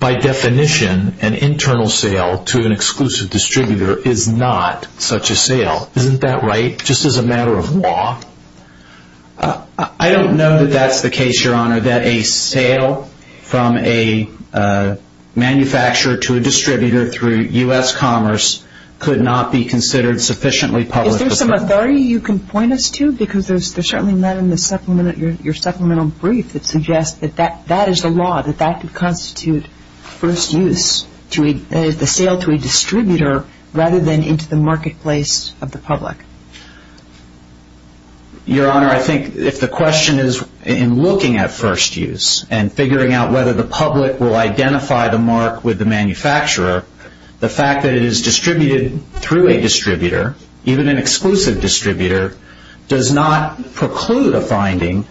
By definition, an internal sale to an exclusive distributor is not such a sale. Isn't that right, just as a matter of law? I don't know that that's the case, Your Honor, that a sale from a manufacturer to a distributor through U.S. Commerce could not be considered sufficiently public. Is there some authority you can point us to? Because there's certainly none in your supplemental brief that suggests that that is the law, that that could constitute first use, the sale to a distributor, rather than into the marketplace of the public. Your Honor, I think if the question is in looking at first use and figuring out whether the public will identify the mark with the manufacturer, the fact that it is distributed through a distributor, even an exclusive distributor, does not preclude a finding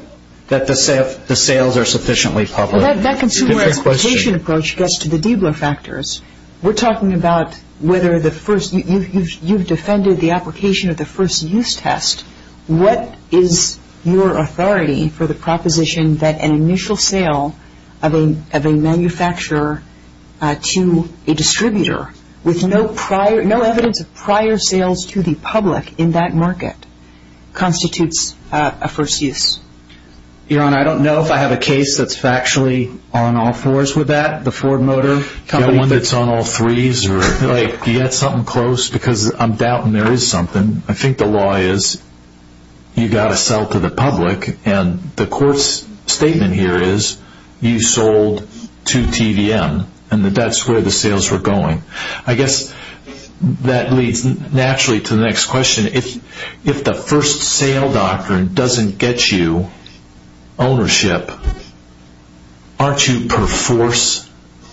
that the sales are sufficiently public. That consumer education approach gets to the debunk factors. We're talking about whether you've defended the application of the first use test. What is your authority for the proposition that an initial sale of a manufacturer to a distributor with no evidence of prior sales to the public in that market constitutes a first use? Your Honor, I don't know if I have a case that's actually on all fours with that, the Ford Motor Company. The one that's on all threes? Do you have something close? Because I'm doubting there is something. I think the law is you've got to sell to the public, and the court's statement here is you sold to TVM, and that's where the sales were going. I guess that leads naturally to the next question. If the first sale doctrine doesn't get you ownership, aren't you perforce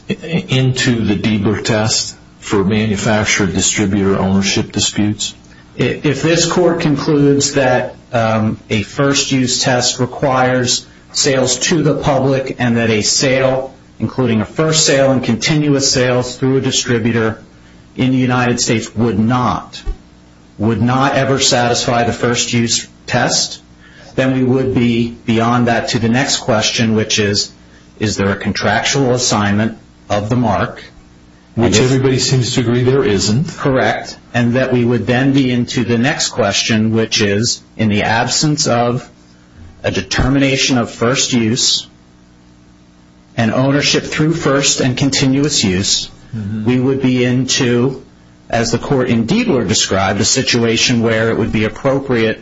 into the Bieber test for manufacturer-distributor ownership disputes? If this court concludes that a first use test requires sales to the public and that a sale, including a first sale and continuous sales through a distributor in the United States, would not ever satisfy the first use test, then we would be beyond that to the next question, which is, is there a contractual assignment of the mark? Which everybody seems to agree there isn't. Correct. And that we would then be into the next question, which is, in the absence of a determination of first use and ownership through first and continuous use, we would be into, as the court in Diebler described, a situation where it would be appropriate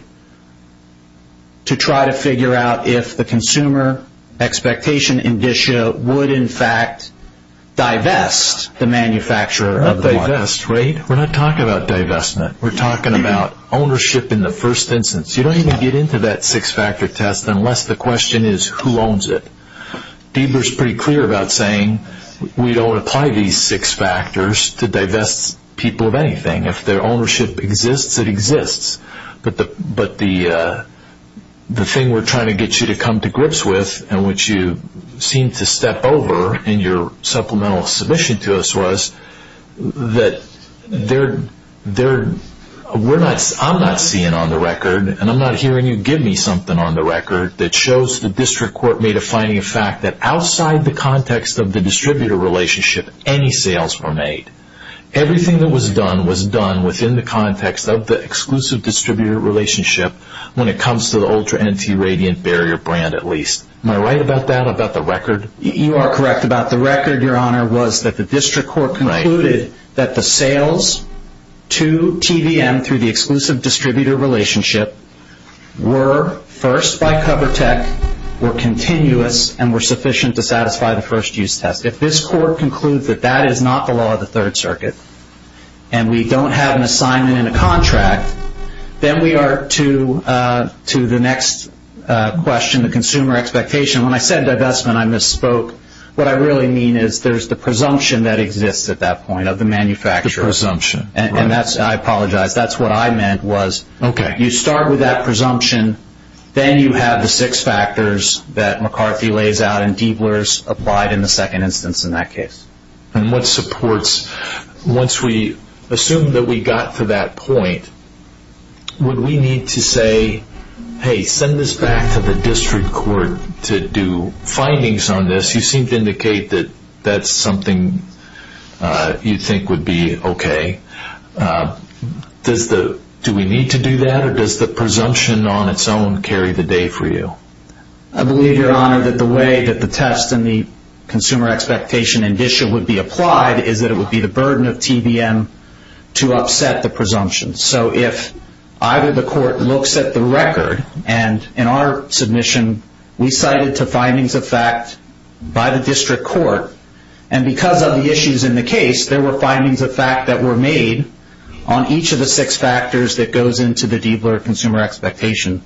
to try to figure out if the consumer expectation would in fact divest the manufacturer of the mark. Divest, right? We're not talking about divestment. We're talking about ownership in the first instance. You don't even get into that six-factor test unless the question is who owns it. Diebler is pretty clear about saying we don't apply these six factors to divest people of anything. If their ownership exists, it exists. But the thing we're trying to get you to come to grips with, and which you seem to step over in your supplemental submission to us, was that I'm not seeing on the record, and I'm not hearing you give me something on the record, that shows the district court made a finding of fact that outside the context of the distributor relationship, any sales were made. Everything that was done was done within the context of the exclusive distributor relationship when it comes to the Ultra Energy Radiant Barrier brand, at least. Am I right about that, about the record? You are correct about the record, Your Honor, was that the district court concluded that the sales to TVM through the exclusive distributor relationship were first by CoverTech, were continuous, and were sufficient to satisfy the first use test. If this court concludes that that is not the law of the Third Circuit, and we don't have an assignment and a contract, then we are to the next question, the consumer expectation. When I said divestment, I misspoke. What I really mean is there's the presumption that exists at that point of the manufacturer. The presumption. I apologize. That's what I meant was, okay, you start with that presumption, then you have the six factors that McCarthy lays out and Diebler's applied in the second instance in that case. And what supports, once we assume that we got to that point, would we need to say, hey, send this back to the district court to do findings on this? You seem to indicate that that's something you think would be okay. Do we need to do that, or does the presumption on its own carry the day for you? I believe, Your Honor, that the way that the test and the consumer expectation in this issue would be applied is that it would be the burden of TVM to upset the presumption. So if either the court looks at the record, and in our submission, we cited the findings of fact by the district court, and because of the issues in the case, there were findings of fact that were made on each of the six factors that goes into the Diebler consumer expectation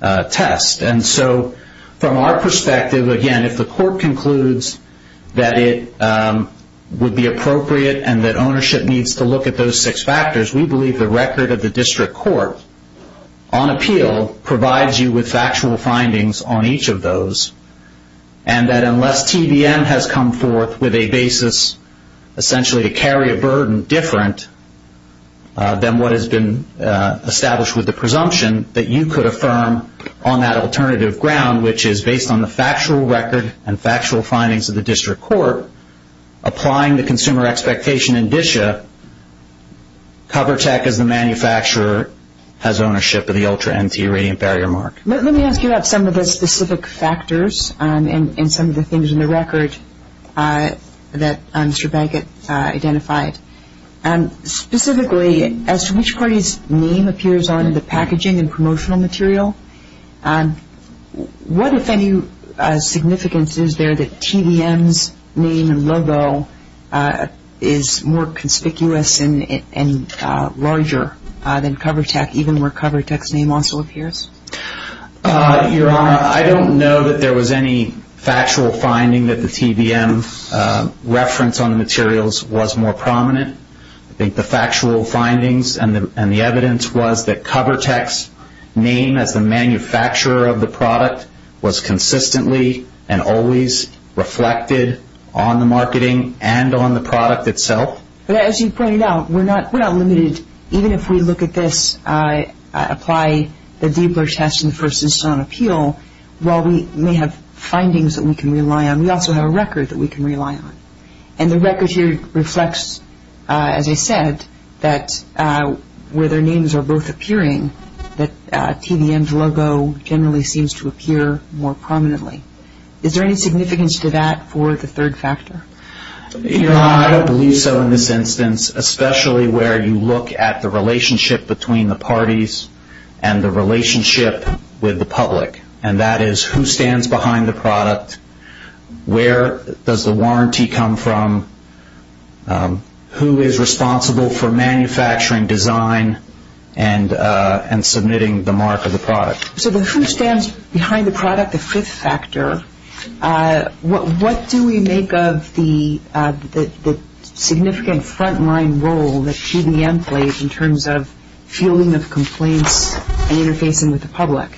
test. And so from our perspective, again, if the court concludes that it would be appropriate and that ownership needs to look at those six factors, we believe the record of the district court on appeal provides you with factual findings on each of those, and that unless TVM has come forth with a basis, essentially to carry a burden different than what has been established with the presumption, that you could affirm on that alternative ground, which is based on the factual record and factual findings of the district court, applying the consumer expectation in DSHA, CoverTech, as the manufacturer, has ownership of the Ultra-NP radiant barrier mark. Let me ask you about some of those specific factors and some of the things in the record that Mr. Bankett identified. Specifically, as to which party's name appears on the packaging and promotional material, what, if any, significance is there that TVM's name and logo is more conspicuous and larger than CoverTech, even where CoverTech's name also appears? Your Honor, I don't know that there was any factual finding that the TVM's reference on the materials was more prominent. I think the factual findings and the evidence was that CoverTech's name as the manufacturer of the product was consistently and always reflected on the marketing and on the product itself. But as you pointed out, we're not limited. Even if we look at this, apply the deeper test in the first instance on appeal, while we may have findings that we can rely on, we also have a record that we can rely on. And the record here reflects, as I said, that where their names are both appearing, that TVM's logo generally seems to appear more prominently. Is there any significance to that for the third factor? Your Honor, I don't believe so in this instance, especially where you look at the relationship between the parties and the relationship with the public, and that is who stands behind the product, where does the warranty come from, who is responsible for manufacturing, design, and submitting the mark of the product. So the who stands behind the product, the fifth factor, what do we make of the significant frontline role that TVM plays in terms of fielding the complaints and interfacing with the public?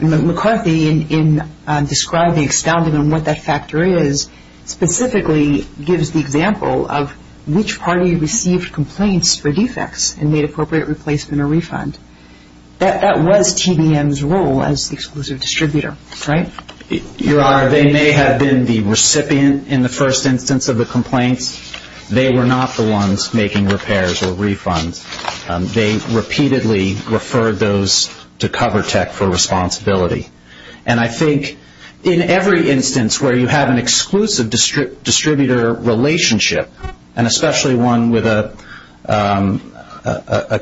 McCarthy, in describing, expounding on what that factor is, specifically gives the example of which party received complaints for defects and made appropriate replacement or refund. That was TVM's role as the exclusive distributor, right? Your Honor, they may have been the recipient in the first instance of the complaint. They were not the ones making repairs or refunds. They repeatedly referred those to CoverTech for responsibility. And I think in every instance where you have an exclusive distributor relationship, and especially one with a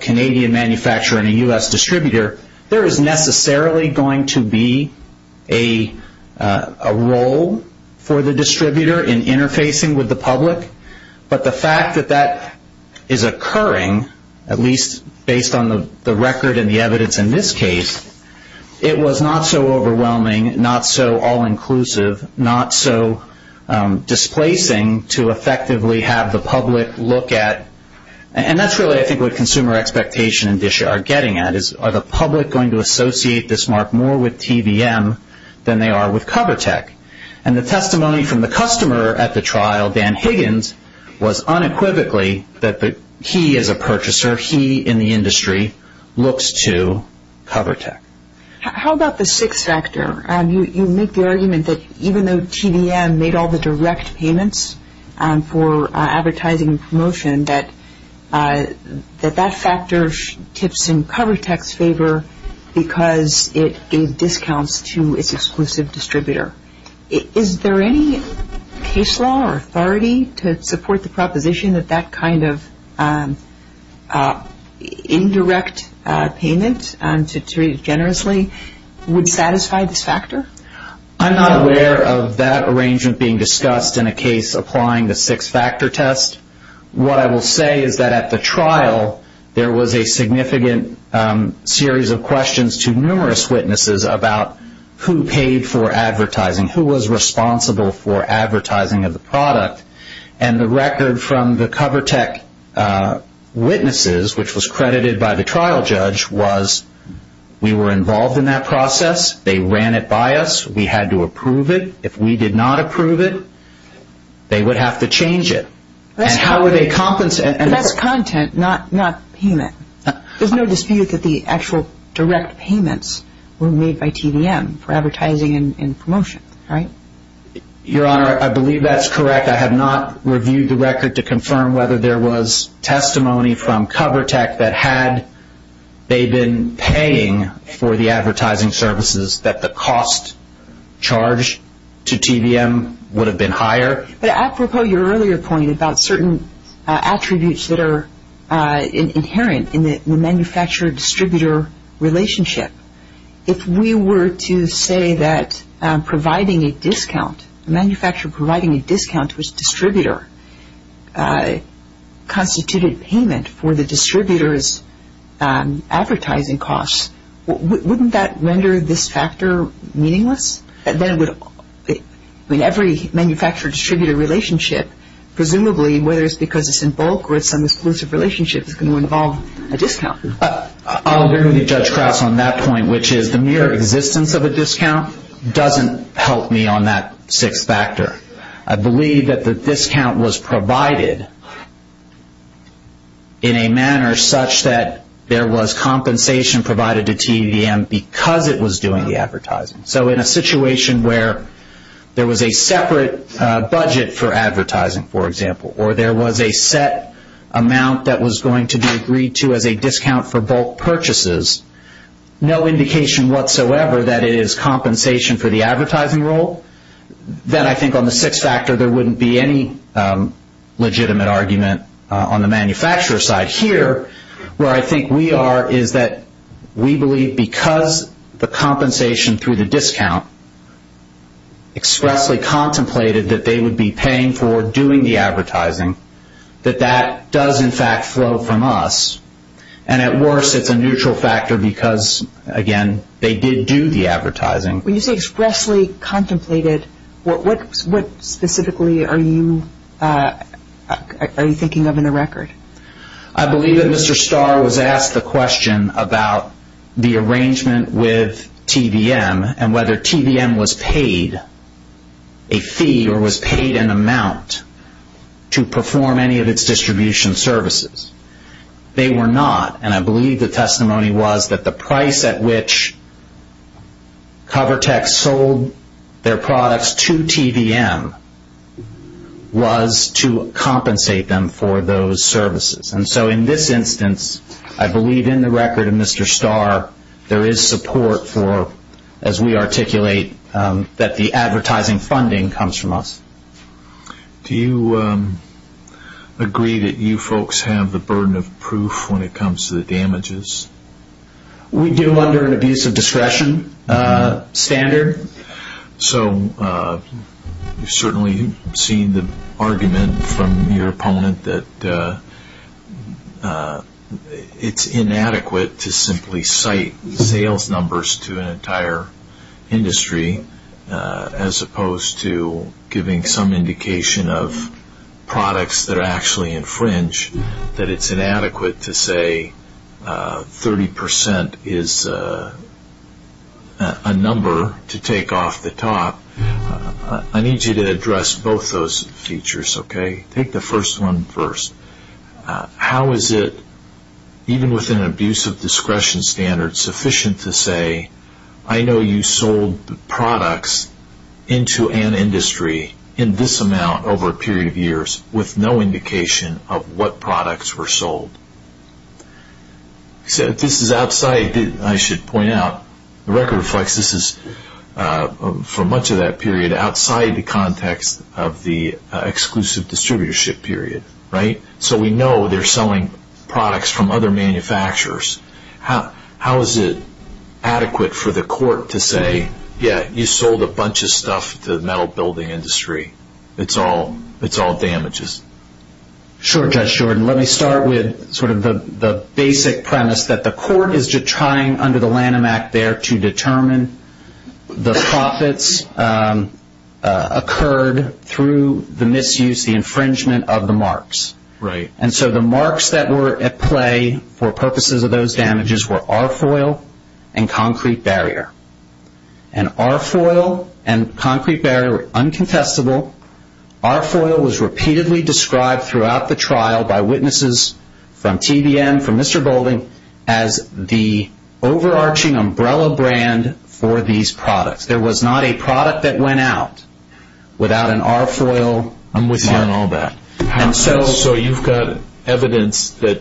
Canadian manufacturer and a U.S. distributor, there is necessarily going to be a role for the distributor in interfacing with the public, but the fact that that is occurring, at least based on the record and the evidence in this case, it was not so overwhelming, not so all-inclusive, not so displacing to effectively have the public look at, and that's really I think what consumer expectation and dish are getting at, is are the public going to associate this mark more with TVM than they are with CoverTech? And the testimony from the customer at the trial, Dan Higgins, was unequivocally that he as a purchaser, he in the industry, looks to CoverTech. How about the sixth factor? You make the argument that even though TVM made all the direct payments for advertising and promotion, that that factor tips in CoverTech's favor because it gave discounts to its exclusive distributor. Is there any case law or authority to support the proposition that that kind of indirect payment, to use generously, would satisfy this factor? I'm not aware of that arrangement being discussed in a case applying the sixth factor test. What I will say is that at the trial, there was a significant series of questions to numerous witnesses about who paid for advertising, who was responsible for advertising of the product, and the record from the CoverTech witnesses, which was credited by the trial judge, was we were involved in that process. They ran it by us. We had to approve it. If we did not approve it, they would have to change it. And how would they compensate? That's content, not payment. There's no dispute that the actual direct payments were made by TVM for advertising and promotion, right? Your Honor, I believe that's correct. I have not reviewed the record to confirm whether there was testimony from CoverTech that had they been paying for the advertising services, that the cost charged to TVM would have been higher. But apropos your earlier point about certain attributes that are inherent in the manufacturer-distributor relationship, if we were to say that providing a discount, manufacturer providing a discount to its distributor, constituted payment for the distributor's advertising costs, wouldn't that render this factor meaningless? And then every manufacturer-distributor relationship, presumably, whether it's because it's in bulk or it's an exclusive relationship, is going to involve a discount. I'm going to judge Krauss on that point, which is the mere existence of a discount doesn't help me on that sixth factor. I believe that the discount was provided in a manner such that there was compensation provided to TVM because it was doing the advertising. So in a situation where there was a separate budget for advertising, for example, or there was a set amount that was going to be agreed to as a discount for bulk purchases, no indication whatsoever that it is compensation for the advertising role, then I think on the sixth factor there wouldn't be any legitimate argument on the manufacturer side. Here, where I think we are is that we believe because the compensation through the discount expressly contemplated that they would be paying for doing the advertising, that that does, in fact, flow from us. And at worst, it's a neutral factor because, again, they did do the advertising. When you say expressly contemplated, what specifically are you thinking of in the record? I believe that Mr. Starr was asked the question about the arrangement with TVM and whether TVM was paid a fee or was paid an amount to perform any of its distribution services. They were not, and I believe the testimony was that the price at which CoverTech sold their products to TVM was to compensate them for those services. And so in this instance, I believe in the record of Mr. Starr, there is support for, as we articulate, that the advertising funding comes from us. Do you agree that you folks have the burden of proof when it comes to the damages? We do under an abuse of discretion standard. So we've certainly seen the argument from your opponent that it's inadequate to simply cite sales numbers to an entire industry as opposed to giving some indication of products that actually infringe, that it's inadequate to say 30% is a number to take off the top. I need you to address both those features, okay? Take the first one first. How is it, even with an abuse of discretion standard, sufficient to say, I know you sold products into an industry in this amount over a period of years with no indication of what products were sold? This is outside, I should point out, the record reflects this is, for much of that period, outside the context of the exclusive distributorship period, right? So we know they're selling products from other manufacturers. How is it adequate for the court to say, yeah, you sold a bunch of stuff to the metal building industry. It's all damages? Sure, Judge Shorten. Let me start with sort of the basic premise that the court is just trying under the Lanham Act there to determine the profits occurred through the misuse, the infringement of the marks. Right. And so the marks that were at play for purposes of those damages were R foil and concrete barrier. And R foil and concrete barrier were uncontestable. R foil was repeatedly described throughout the trial by witnesses from TBN, from Mr. Golding, as the overarching umbrella brand for these products. There was not a product that went out without an R foil mark. I'm with you on all that. So you've got evidence that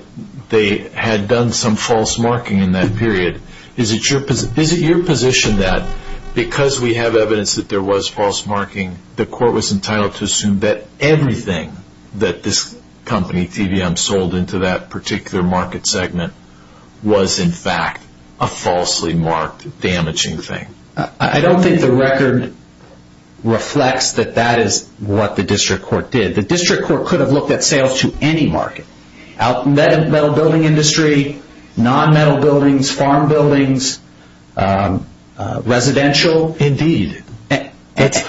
they had done some false marking in that period. Is it your position that because we have evidence that there was false marking, the court was entitled to assume that everything that this company, TBM, sold into that particular market segment was, in fact, a falsely marked damaging thing? I don't think the record reflects that that is what the district court did. The district court could have looked at sales to any market, metal building industry, nonmetal buildings, farm buildings, residential. Indeed. That's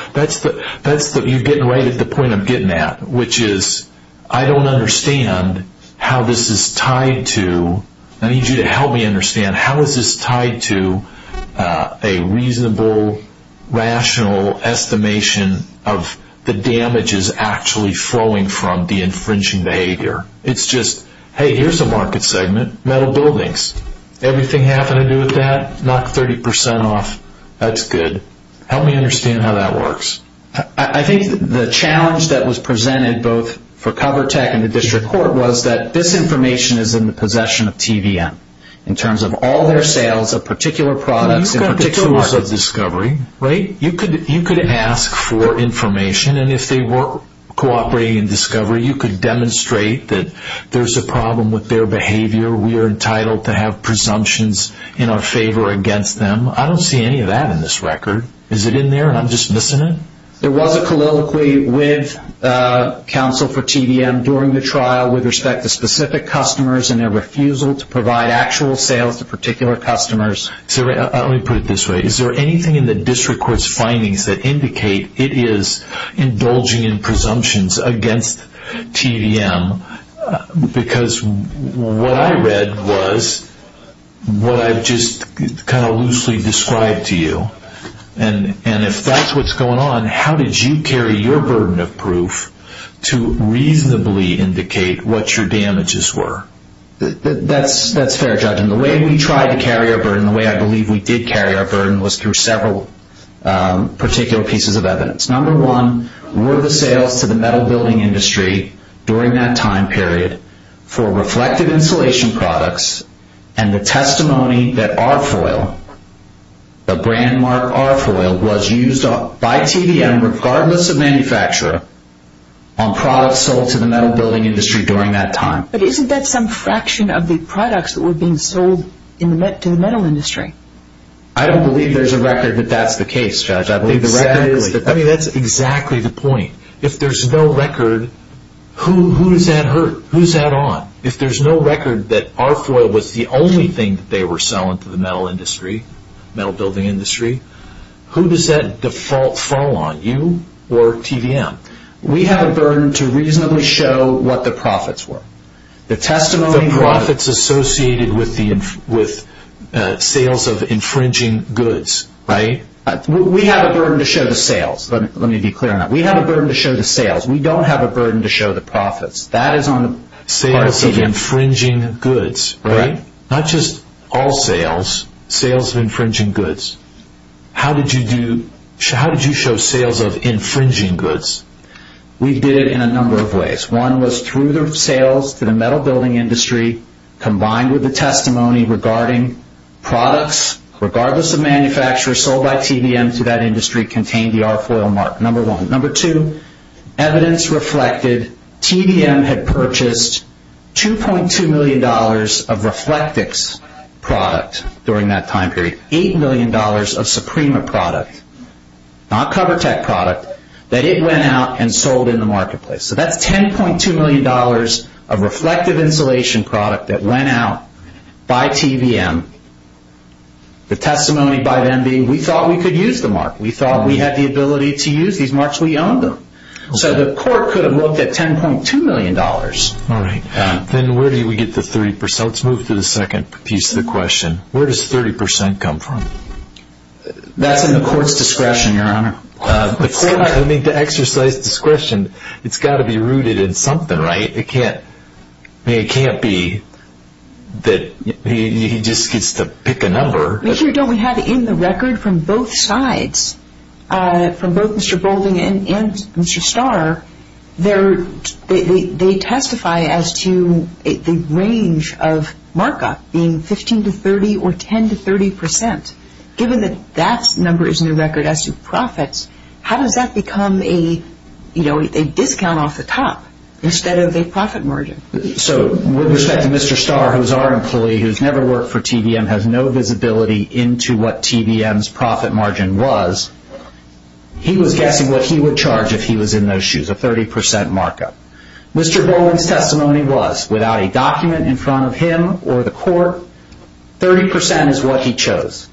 what you're getting right at the point I'm getting at, which is I don't understand how this is tied to, I need you to help me understand how is this tied to a reasonable, rational estimation of the damages actually flowing from the infringing behavior. It's just, hey, here's a market segment, metal buildings. Everything happened to do with that, knock 30% off. That's good. Help me understand how that works. I think the challenge that was presented both for CoverTech and the district court was that this information is in the possession of TBM in terms of all their sales of particular products You could ask for information, and if they were cooperating in discovery, you could demonstrate that there's a problem with their behavior. We are entitled to have presumptions in our favor against them. I don't see any of that in this record. Is it in there? I'm just missing it. There was a colloquy with counsel for TBM during the trial with respect to specific customers and their refusal to provide actual sales to particular customers. Let me put it this way. Is there anything in the district court's findings that indicate it is indulging in presumptions against TBM? Because what I read was what I've just kind of loosely described to you. If that's what's going on, how did you carry your burden of proof to reasonably indicate what your damages were? That's fair, Judge. The way we tried to carry our burden, the way I believe we did carry our burden, was through several particular pieces of evidence. Number one, were the sales to the metal building industry during that time period for reflective insulation products and the testimony that R-Foil, the brand mark R-Foil, was used by TBM, regardless of manufacturer, on products sold to the metal building industry during that time. But isn't that some fraction of the products that were being sold to the metal industry? I don't believe there's a record that that's the case, Judge. That's exactly the point. If there's no record, who is that on? If there's no record that R-Foil was the only thing that they were selling to the metal industry, metal building industry, who does that default fall on, you or TBM? We have a burden to reasonably show what the profits were. The testimony profits associated with sales of infringing goods, right? We have a burden to show the sales. Let me be clear on that. We have a burden to show the sales. We don't have a burden to show the profits. Sales of infringing goods, right? Not just all sales, sales of infringing goods. How did you show sales of infringing goods? We did it in a number of ways. One was through the sales to the metal building industry, combined with the testimony regarding products, regardless of manufacturer, sold by TBM to that industry, contained the R-Foil mark, number one. Number two, evidence reflected TBM had purchased $2.2 million of Reflectix product during that time period, $8 million of Suprema product, not CoverTech product, that it went out and sold in the marketplace. So that's $10.2 million of reflective insulation product that went out by TBM. The testimony by MD, we thought we could use the mark. We thought we had the ability to use these marks. We owned them. So the court could have looked at $10.2 million. All right. Then where do we get the 30%? Let's move to the second piece of the question. Where does 30% come from? That's in the court's discretion, Your Honor. The court, I mean, to exercise discretion, it's got to be rooted in something, right? It can't be that he just gets to pick a number. In the record from both sides, from both Mr. Boulding and Mr. Starr, they testify as to the range of markup being 15% to 30% or 10% to 30%. Given that that number is in the record as to profits, how does that become a discount off the top instead of a profit margin? With respect to Mr. Starr, who's our employee, who's never worked for TBM, has no visibility into what TBM's profit margin was, he was asked what he would charge if he was in those shoes, a 30% markup. Mr. Boulding's testimony was, without a document in front of him or the court, 30% is what he chose.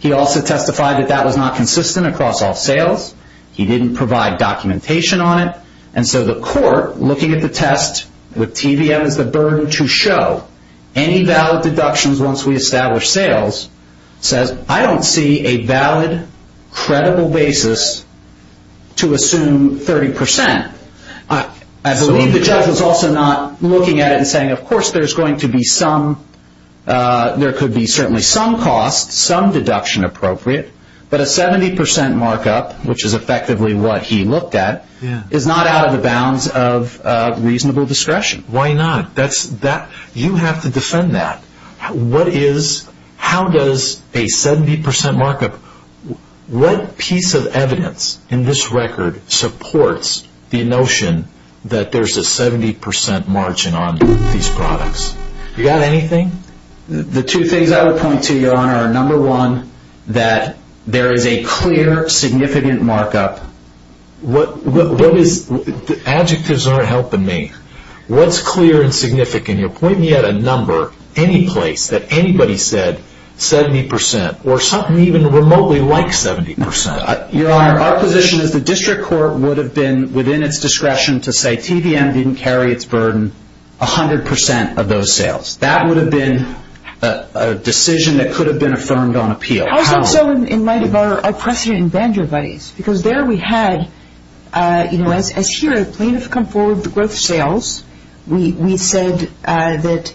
He also testified that that was not consistent across all sales. He didn't provide documentation on it. And so the court, looking at the test, with TBM at the burden to show, any valid deductions once we establish sales, says, I don't see a valid, credible basis to assume 30%. I believe the judge was also not looking at it and saying, of course there's going to be some, there could be certainly some cost, some deduction appropriate, but a 70% markup, which is effectively what he looked at, is not out of the bounds of reasonable discretion. Why not? You have to defend that. What is, how does a 70% markup, what piece of evidence in this record supports the notion that there's a 70% margin on these products? You got anything? The two things I would point to, your honor, number one, that there is a clear, significant markup. What is, adjectives aren't helping me. What's clear and significant? You're pointing at a number, any place, that anybody said 70%, or something even remotely like 70%. Your honor, our position is the district court would have been within its discretion to say TBM didn't carry its burden 100% of those sales. That would have been a decision that could have been affirmed on appeal. Also, in light of our precedent in Banjo-Vice, because there we had, you know, as sure as plaintiffs come forward to growth sales, we said that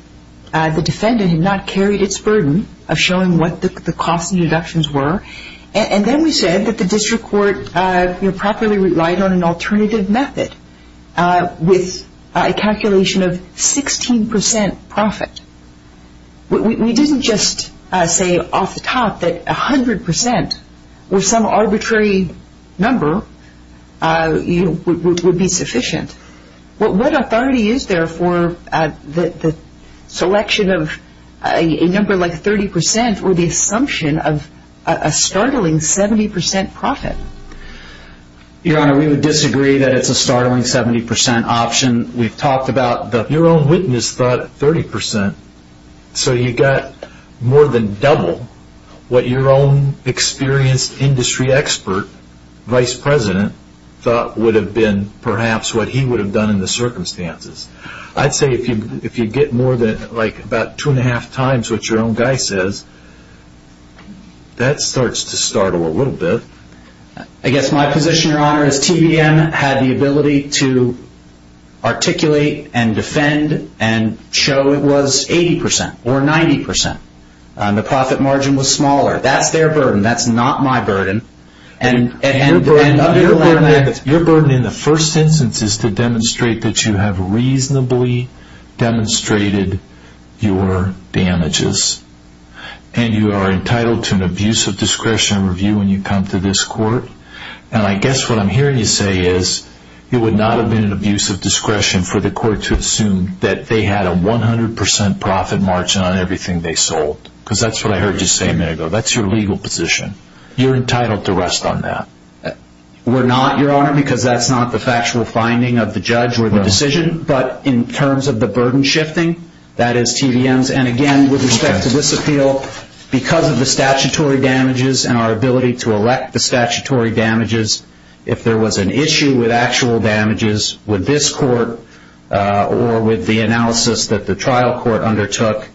the defendant had not carried its burden, showing what the cost of deductions were, and then we said that the district court properly relied on an alternative method with a calculation of 16% profit. We didn't just say off the top that 100% with some arbitrary number would be sufficient. What authority is there for the selection of a number like 30% or the assumption of a startling 70% profit? Your honor, we would disagree that it's a startling 70% option. We've talked about your own witness thought 30%, so you got more than double what your own experienced industry expert, vice president, thought would have been perhaps what he would have done in the circumstances. I'd say if you get more than like about two and a half times what your own guy says, that starts to startle a little bit. I guess my position, your honor, is TVM had the ability to articulate and defend and show it was 80% or 90%. The profit margin was smaller. That's their burden. That's not my burden. Your burden in the first instance is to demonstrate that you have reasonably demonstrated your damages. You are entitled to an abuse of discretion review when you come to this court. I guess what I'm hearing you say is it would not have been an abuse of discretion for the court to assume that they had a 100% profit margin on everything they sold. That's what I heard you say a minute ago. That's your legal position. You're entitled to rest on that. We're not, your honor, because that's not the factual finding of the judge or the decision. But in terms of the burden shifting, that is TVM's. And, again, with respect to this appeal, because of the statutory damages and our ability to elect the statutory damages, if there was an issue with actual damages with this court or with the analysis that the trial court undertook,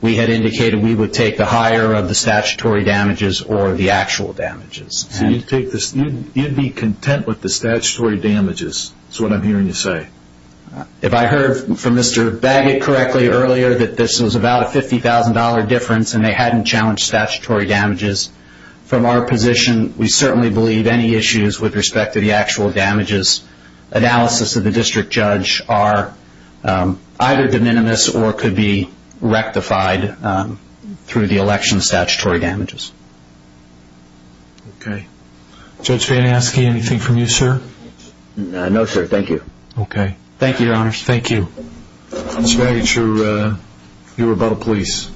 we had indicated we would take the higher of the statutory damages or the actual damages. You'd be content with the statutory damages is what I'm hearing you say. If I heard from Mr. Baggett correctly earlier that this was about a $50,000 difference and they hadn't challenged statutory damages, from our position, we certainly believe any issues with respect to the actual damages analysis of the district judge are either de minimis or could be rectified through the election statutory damages. Okay. Judge Faniaski, anything from you, sir? No, sir. Thank you. Okay. Thank you, your honor. Thank you. Judge Baggett, you're above the police.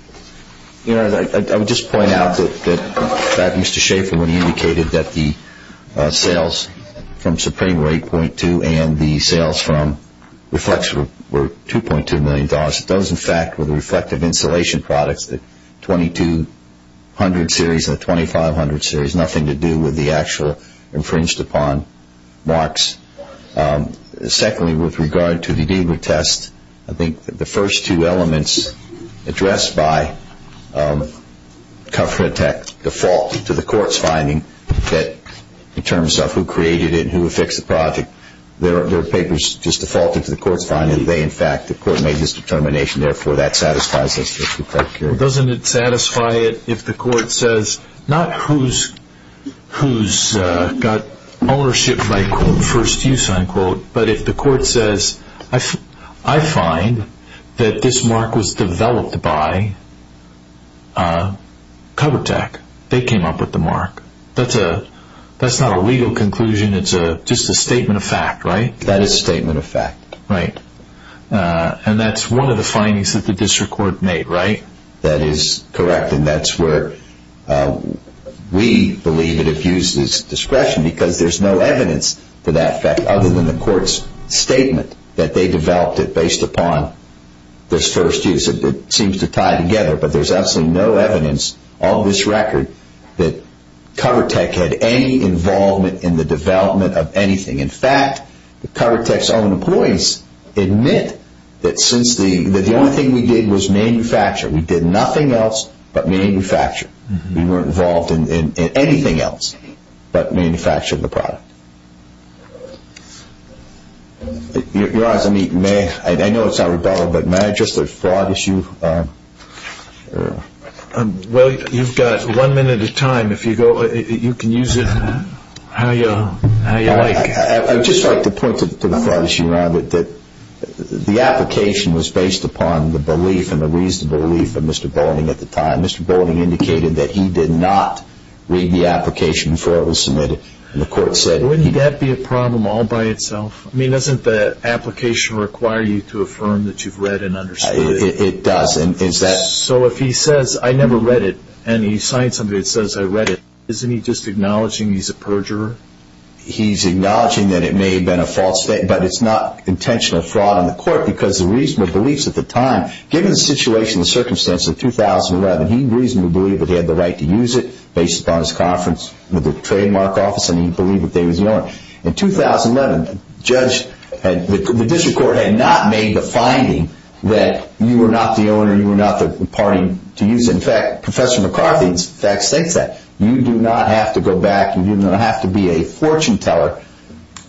Thank you, your honor. Your honor, I would just point out that Mr. Schaffer indicated that the sales from Supreme were $8.2 and the sales from Reflex were $2.2 million. Those, in fact, were the reflective insulation products, the 2200 series and the 2500 series, nothing to do with the actual infringed upon marks. Secondly, with regard to the deed of the test, I think the first two elements addressed by comfort tax default to the court's finding that in terms of who created it and who affixed the product, they're papers just defaulting to the court's finding. They, in fact, the court made this determination. Therefore, that satisfies this district court's hearing. Doesn't it satisfy it if the court says, not who's got ownership by quote, first use, unquote, but if the court says, I find that this mark was developed by cover tech. They came up with the mark. That's not a legal conclusion. It's just a statement of fact, right? That is a statement of fact. Right. That's one of the findings that the district court made, right? That is correct, and that's where we believe it abuses discretion because there's no evidence to that fact other than the court's statement that they developed it based upon this first use. It seems to tie together, but there's absolutely no evidence on this record that cover tech had any involvement in the development of anything. In fact, the cover tech's own employees admit that the only thing we did was manufacture. We did nothing else but manufacture. We weren't involved in anything else but manufacture of the product. Your Honor, I know it's out of order, but may I address the broad issue? Well, you've got one minute of time. If you go, you can use it how you like. I'd just like to point to the part that you're on with that the application was based upon the belief and the reasonable belief of Mr. Boulding at the time. Mr. Boulding indicated that he did not read the application before it was submitted, and the court said— Wouldn't that be a problem all by itself? I mean, doesn't the application require you to affirm that you've read and understood it? It does. So if he says, I never read it, and he signed something that says I read it, isn't he just acknowledging he's a perjurer? He's acknowledging that it may have been a false statement, but it's not intentional fraud on the court because the reasonable beliefs at the time, given the situation and the circumstances of 2011, he reasonably believed that they had the right to use it based upon his confidence in the trademark office and he believed that they were doing it. In 2011, the district court had not made the finding that you were not the owner, you were not the party to use it. In fact, Professor McCarthy in fact states that. You do not have to go back and you don't have to be a fortune teller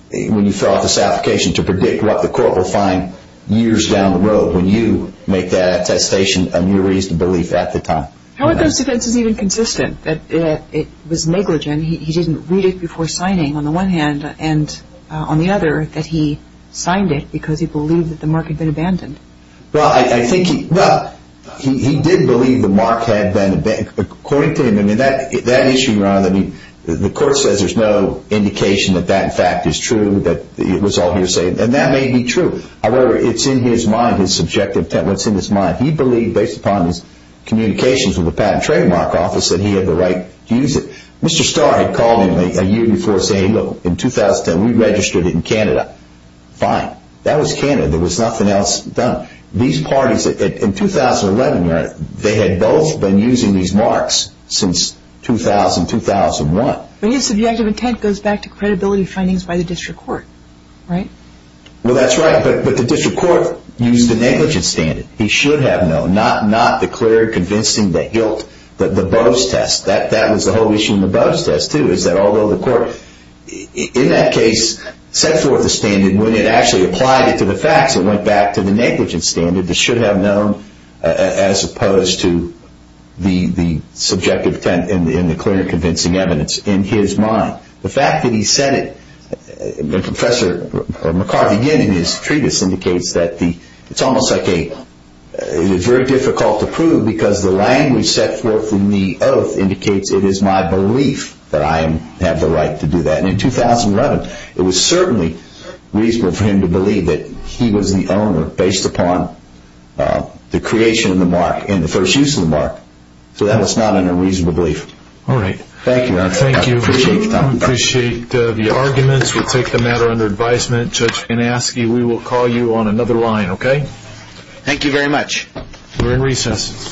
when you fill out this application to predict what the court will find years down the road when you make that attestation on your reasonable belief at the time. How are those defenses even consistent? It was negligent. He didn't read it before signing on the one hand, and on the other that he signed it because he believed that the mark had been abandoned. Well, he did believe the mark had been abandoned. According to him, that issue, Ron, the court says there's no indication that that fact is true, that it was all hearsay, and that may be true. However, it's in his mind, his subjective intent, what's in his mind. He believed based upon his communications with the patent trademark office that he had the right to use it. Mr. Starr had called me a year before saying, well, in 2010, we registered it in Canada. Fine. That was Canada. There was nothing else done. These parties, in 2011, they had both been using these marks since 2000, 2001. But his subjective intent goes back to credibility findings by the district court, right? Well, that's right, but the district court used a negligent standard. He should have known, not declared convincing the hilt, but the Bose test. That was the whole issue in the Bose test, too, is that although the court, in that case, set forth the standard, when it actually applied it to the facts, it went back to the negligent standard. It should have known as opposed to the subjective intent and the clear and convincing evidence in his mind. The fact that he said it, and Professor McCarthy did in his treatise indicates that it's almost like a It is very difficult to prove because the line we set forth in the oath indicates it is my belief that I have the right to do that. In 2011, it was certainly reasonable for him to believe that he was the owner based upon the creation of the mark and the first use of the mark. So that was not a reasonable belief. All right. Thank you, Ron. Thank you. We appreciate the arguments. We'll take the matter under advisement. We will call you on another line. OK? Thank you very much. We're in recess.